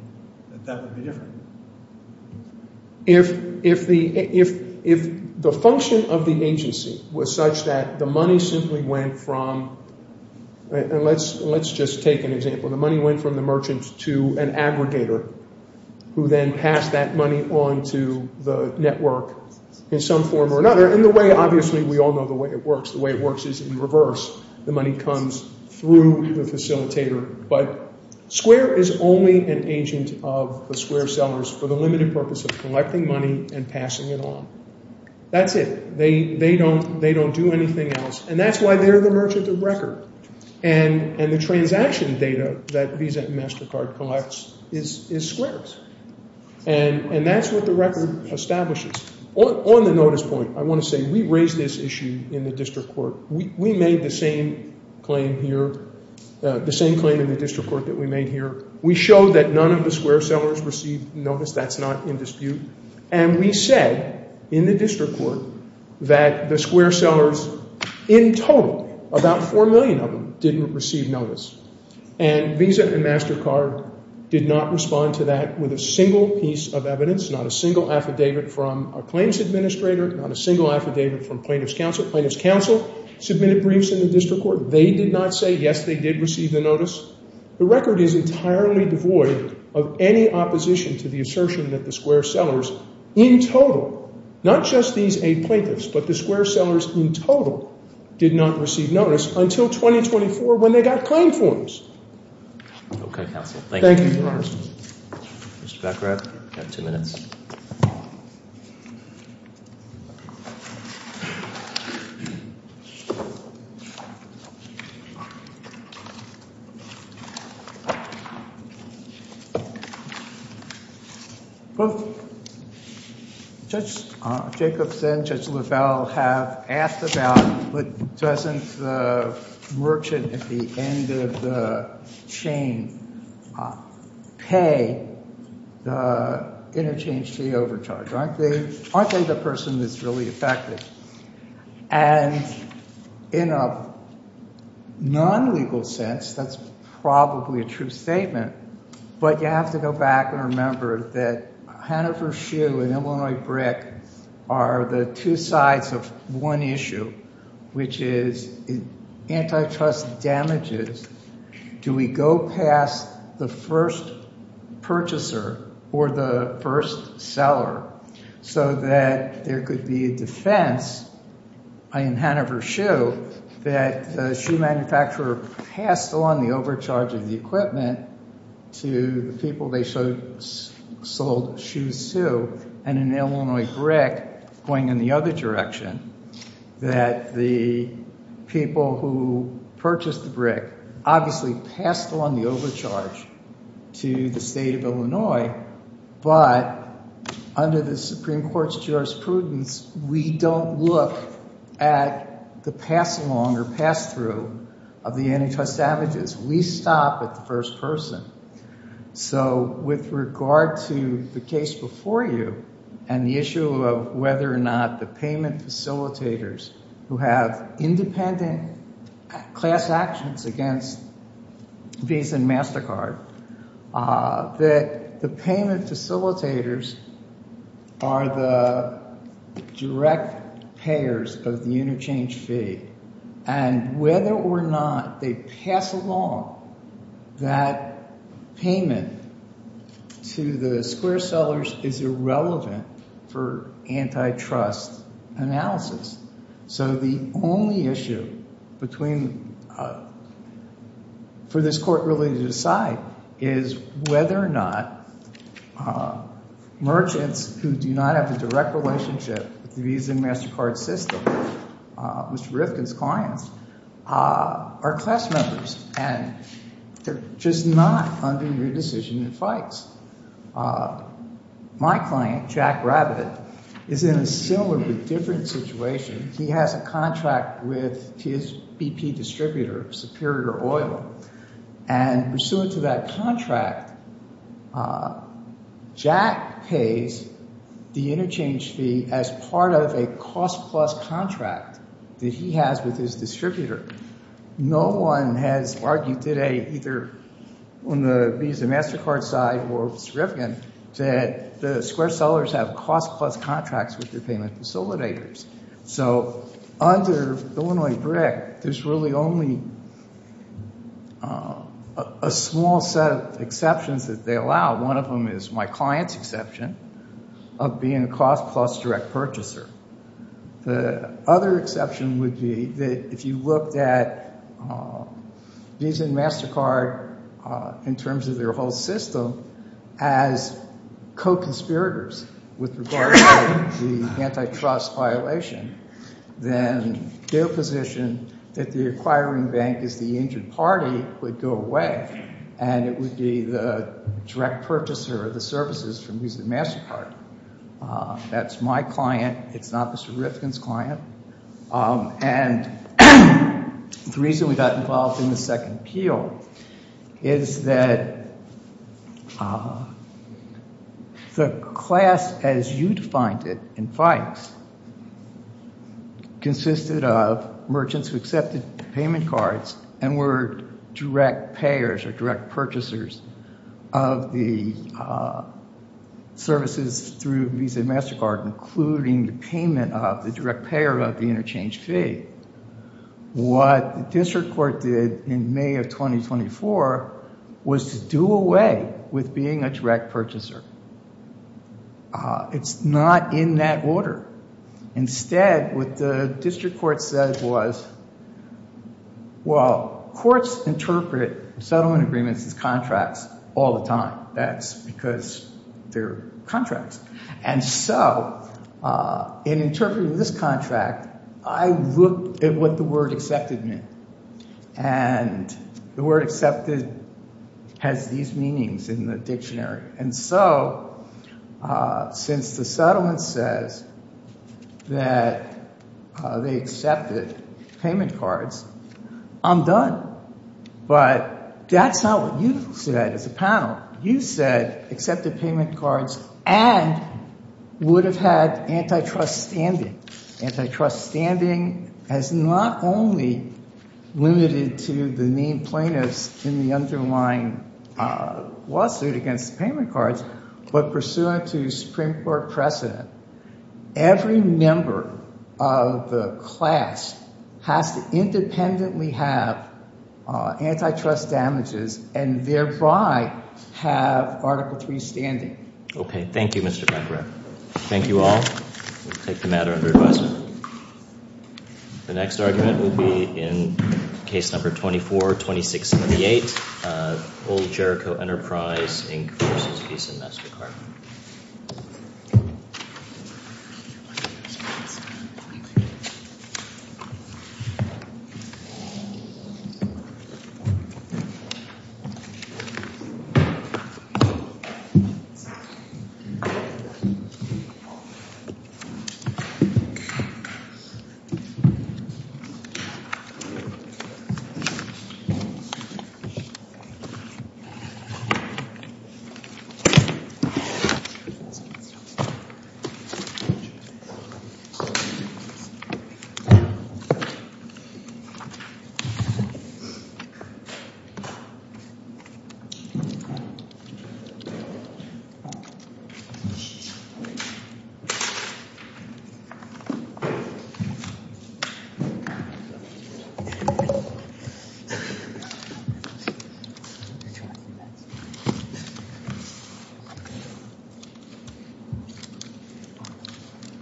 that that would be different. If the function of the agency was such that the money simply went from, and let's just take an example, the money went from the merchant to an aggregator who then passed that money on to the network in some form or another. And the way, obviously, we all know the way it works. The way it works is in reverse. The money comes through the facilitator. But Square is only an agent of the Square sellers for the limited purpose of collecting money and passing it on. That's it. They don't do anything else. And that's why they're the merchant of record. And the transaction data that Visa and MasterCard collects is Square's. And that's what the record establishes. On the notice point, I want to say we raised this issue in the district court. We made the same claim here, the same claim in the district court that we made here. We showed that none of the Square sellers received notice. That's not in dispute. And we said in the district court that the Square sellers in total, about 4 million of them, didn't receive notice. And Visa and MasterCard did not respond to that with a single piece of evidence, not a single affidavit from a claims administrator, not a single affidavit from plaintiff's counsel. Submitted briefs in the district court. They did not say, yes, they did receive the notice. The record is entirely devoid of any opposition to the assertion that the Square sellers in total, not just these eight plaintiffs, but the Square sellers in total, did not receive notice until 2024 when they got claim forms. Okay, counsel. Thank you. Thank you, Your Honor. Mr. Beckrath, you have two minutes. Well, Judge Jacobs and Judge LaValle have asked about doesn't the merchant at the end of the chain pay the interchange fee overcharge? Aren't they the person that's really affected? And in a non-legal sense, that's probably a true statement. But you have to go back and remember that Hannaford Shoe and Illinois Brick are the two sides of one issue, which is antitrust damages. Do we go past the first purchaser or the first seller so that there could be a defense in Hannaford Shoe that the shoe manufacturer passed on the overcharge of the equipment to the people they sold shoes to? And in Illinois Brick, going in the other direction, that the people who purchased the brick obviously passed on the overcharge to the state of Illinois. But under the Supreme Court's jurisprudence, we don't look at the pass-along or pass-through of the antitrust damages. We stop at the first person. So with regard to the case before you and the issue of whether or not the payment facilitators who have independent class actions against Visa and MasterCard, that the payment facilitators are the direct payers of the interchange fee. And whether or not they pass along that payment to the square sellers is irrelevant for antitrust analysis. So the only issue for this court really to decide is whether or not merchants who do not have a direct relationship with the Visa and MasterCard system, Mr. Berrifkin's clients, are class members. And they're just not under your decision in fights. My client, Jack Rabbit, is in a similar but different situation. He has a contract with his BP distributor, Superior Oil. And pursuant to that contract, Jack pays the interchange fee as part of a cost-plus contract that he has with his distributor. No one has argued today, either on the Visa and MasterCard side or Mr. Berrifkin, that the square sellers have cost-plus contracts with their payment facilitators. So under the Illinois BRIC, there's really only a small set of exceptions that they allow. One of them is my client's exception of being a cost-plus direct purchaser. The other exception would be that if you looked at Visa and MasterCard in terms of their whole system as co-conspirators with regard to the antitrust violation, then their position that the acquiring bank is the injured party would go away. And it would be the direct purchaser of the services from Visa and MasterCard. That's my client. It's not Mr. Berrifkin's client. And the reason we got involved in the second appeal is that the class as you defined it in fights consisted of merchants who accepted payment cards and were direct payers or direct purchasers of the services through Visa and MasterCard, including the payment of the direct payer of the interchange fee. What the district court did in May of 2024 was to do away with being a direct purchaser. It's not in that order. Instead, what the district court said was, well, courts interpret settlement agreements as contracts all the time. That's because they're contracts. And so in interpreting this contract, I looked at what the word accepted meant. And the word accepted has these meanings in the dictionary. And so since the settlement says that they accepted payment cards, I'm done. But that's not what you said as a panel. You said accepted payment cards and would have had antitrust standing. Antitrust standing has not only limited to the main plaintiffs in the underlying lawsuit against payment cards, but pursuant to Supreme Court precedent, every member of the class has to independently have antitrust damages and thereby have Article 3 standing. Okay. Thank you, Mr. Pecoraro. Thank you all. We'll take the matter under advisement. The next argument will be in case number 24-26-78, Old Jericho Enterprise, Inc. versus Visa and MasterCard. Mr. Pecoraro.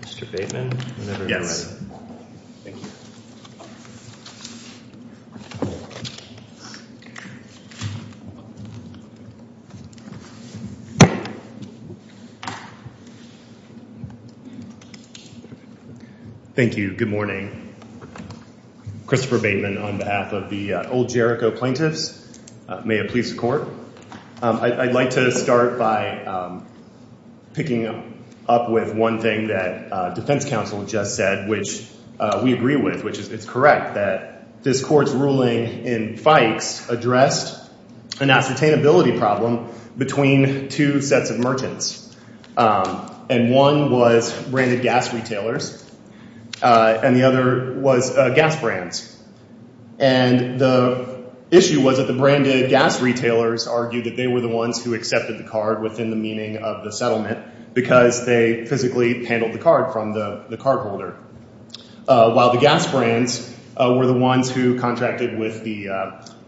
Mr. Bateman. Yes. Thank you. Good morning. Christopher Bateman on behalf of the Old Jericho plaintiffs. May it please the Court. I'd like to start by picking up with one thing that defense counsel just said, which we agree with, which is it's correct that this court's ruling in Fikes addressed an ascertainability problem between two sets of merchants. And one was branded gas retailers and the other was gas brands. And the issue was that the branded gas retailers argued that they were the ones who accepted the card within the meaning of the settlement because they physically handled the card from the cardholder, while the gas brands were the ones who contracted with the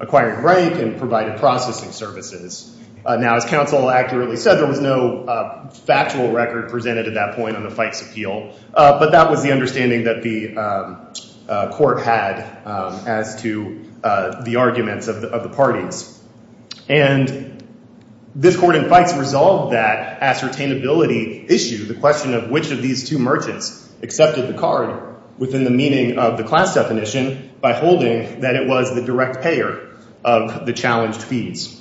acquiring rank and provided processing services. Now, as counsel accurately said, there was no factual record presented at that point on the Fikes appeal, but that was the understanding that the court had as to the arguments of the parties. And this court in Fikes resolved that ascertainability issue, the question of which of these two merchants accepted the card within the meaning of the class definition by holding that it was the direct payer of the challenged fees.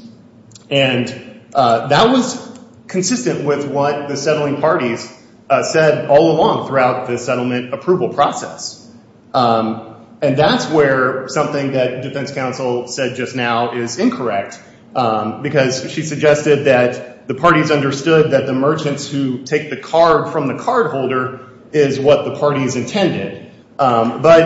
And that was consistent with what the settling parties said all along throughout the settlement approval process. And that's where something that defense counsel said just now is incorrect because she suggested that the parties understood that the merchants who take the card from the cardholder is what the parties intended. But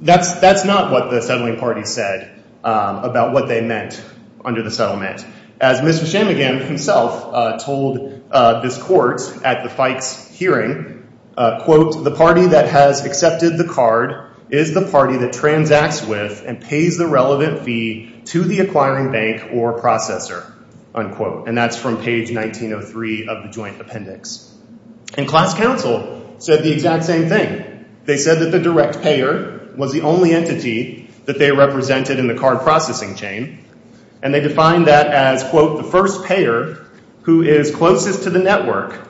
that's not what the settling parties said about what they meant under the settlement. As Mr. Shammigan himself told this court at the Fikes hearing, quote, the party that has accepted the card is the party that transacts with and pays the relevant fee to the acquiring bank or processor, unquote. And that's from page 1903 of the joint appendix. And class counsel said the exact same thing. They said that the direct payer was the only entity that they represented in the card processing chain. And they defined that as, quote, the first payer who is closest to the network,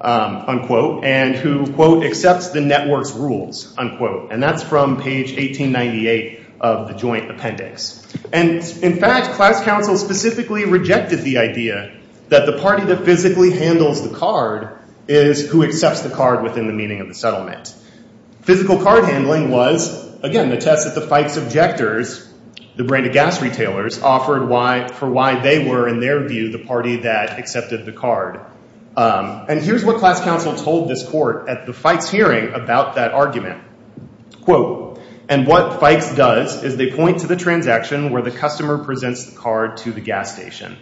unquote, and who, quote, accepts the network's rules, unquote. And that's from page 1898 of the joint appendix. And in fact, class counsel specifically rejected the idea that the party that physically handles the card is who accepts the card within the meaning of the settlement. Physical card handling was, again, the test that the Fikes objectors, the brand of gas retailers, offered for why they were, in their view, the party that accepted the card. And here's what class counsel told this court at the Fikes hearing about that argument. Quote, and what Fikes does is they point to the transaction where the customer presents the card to the gas station.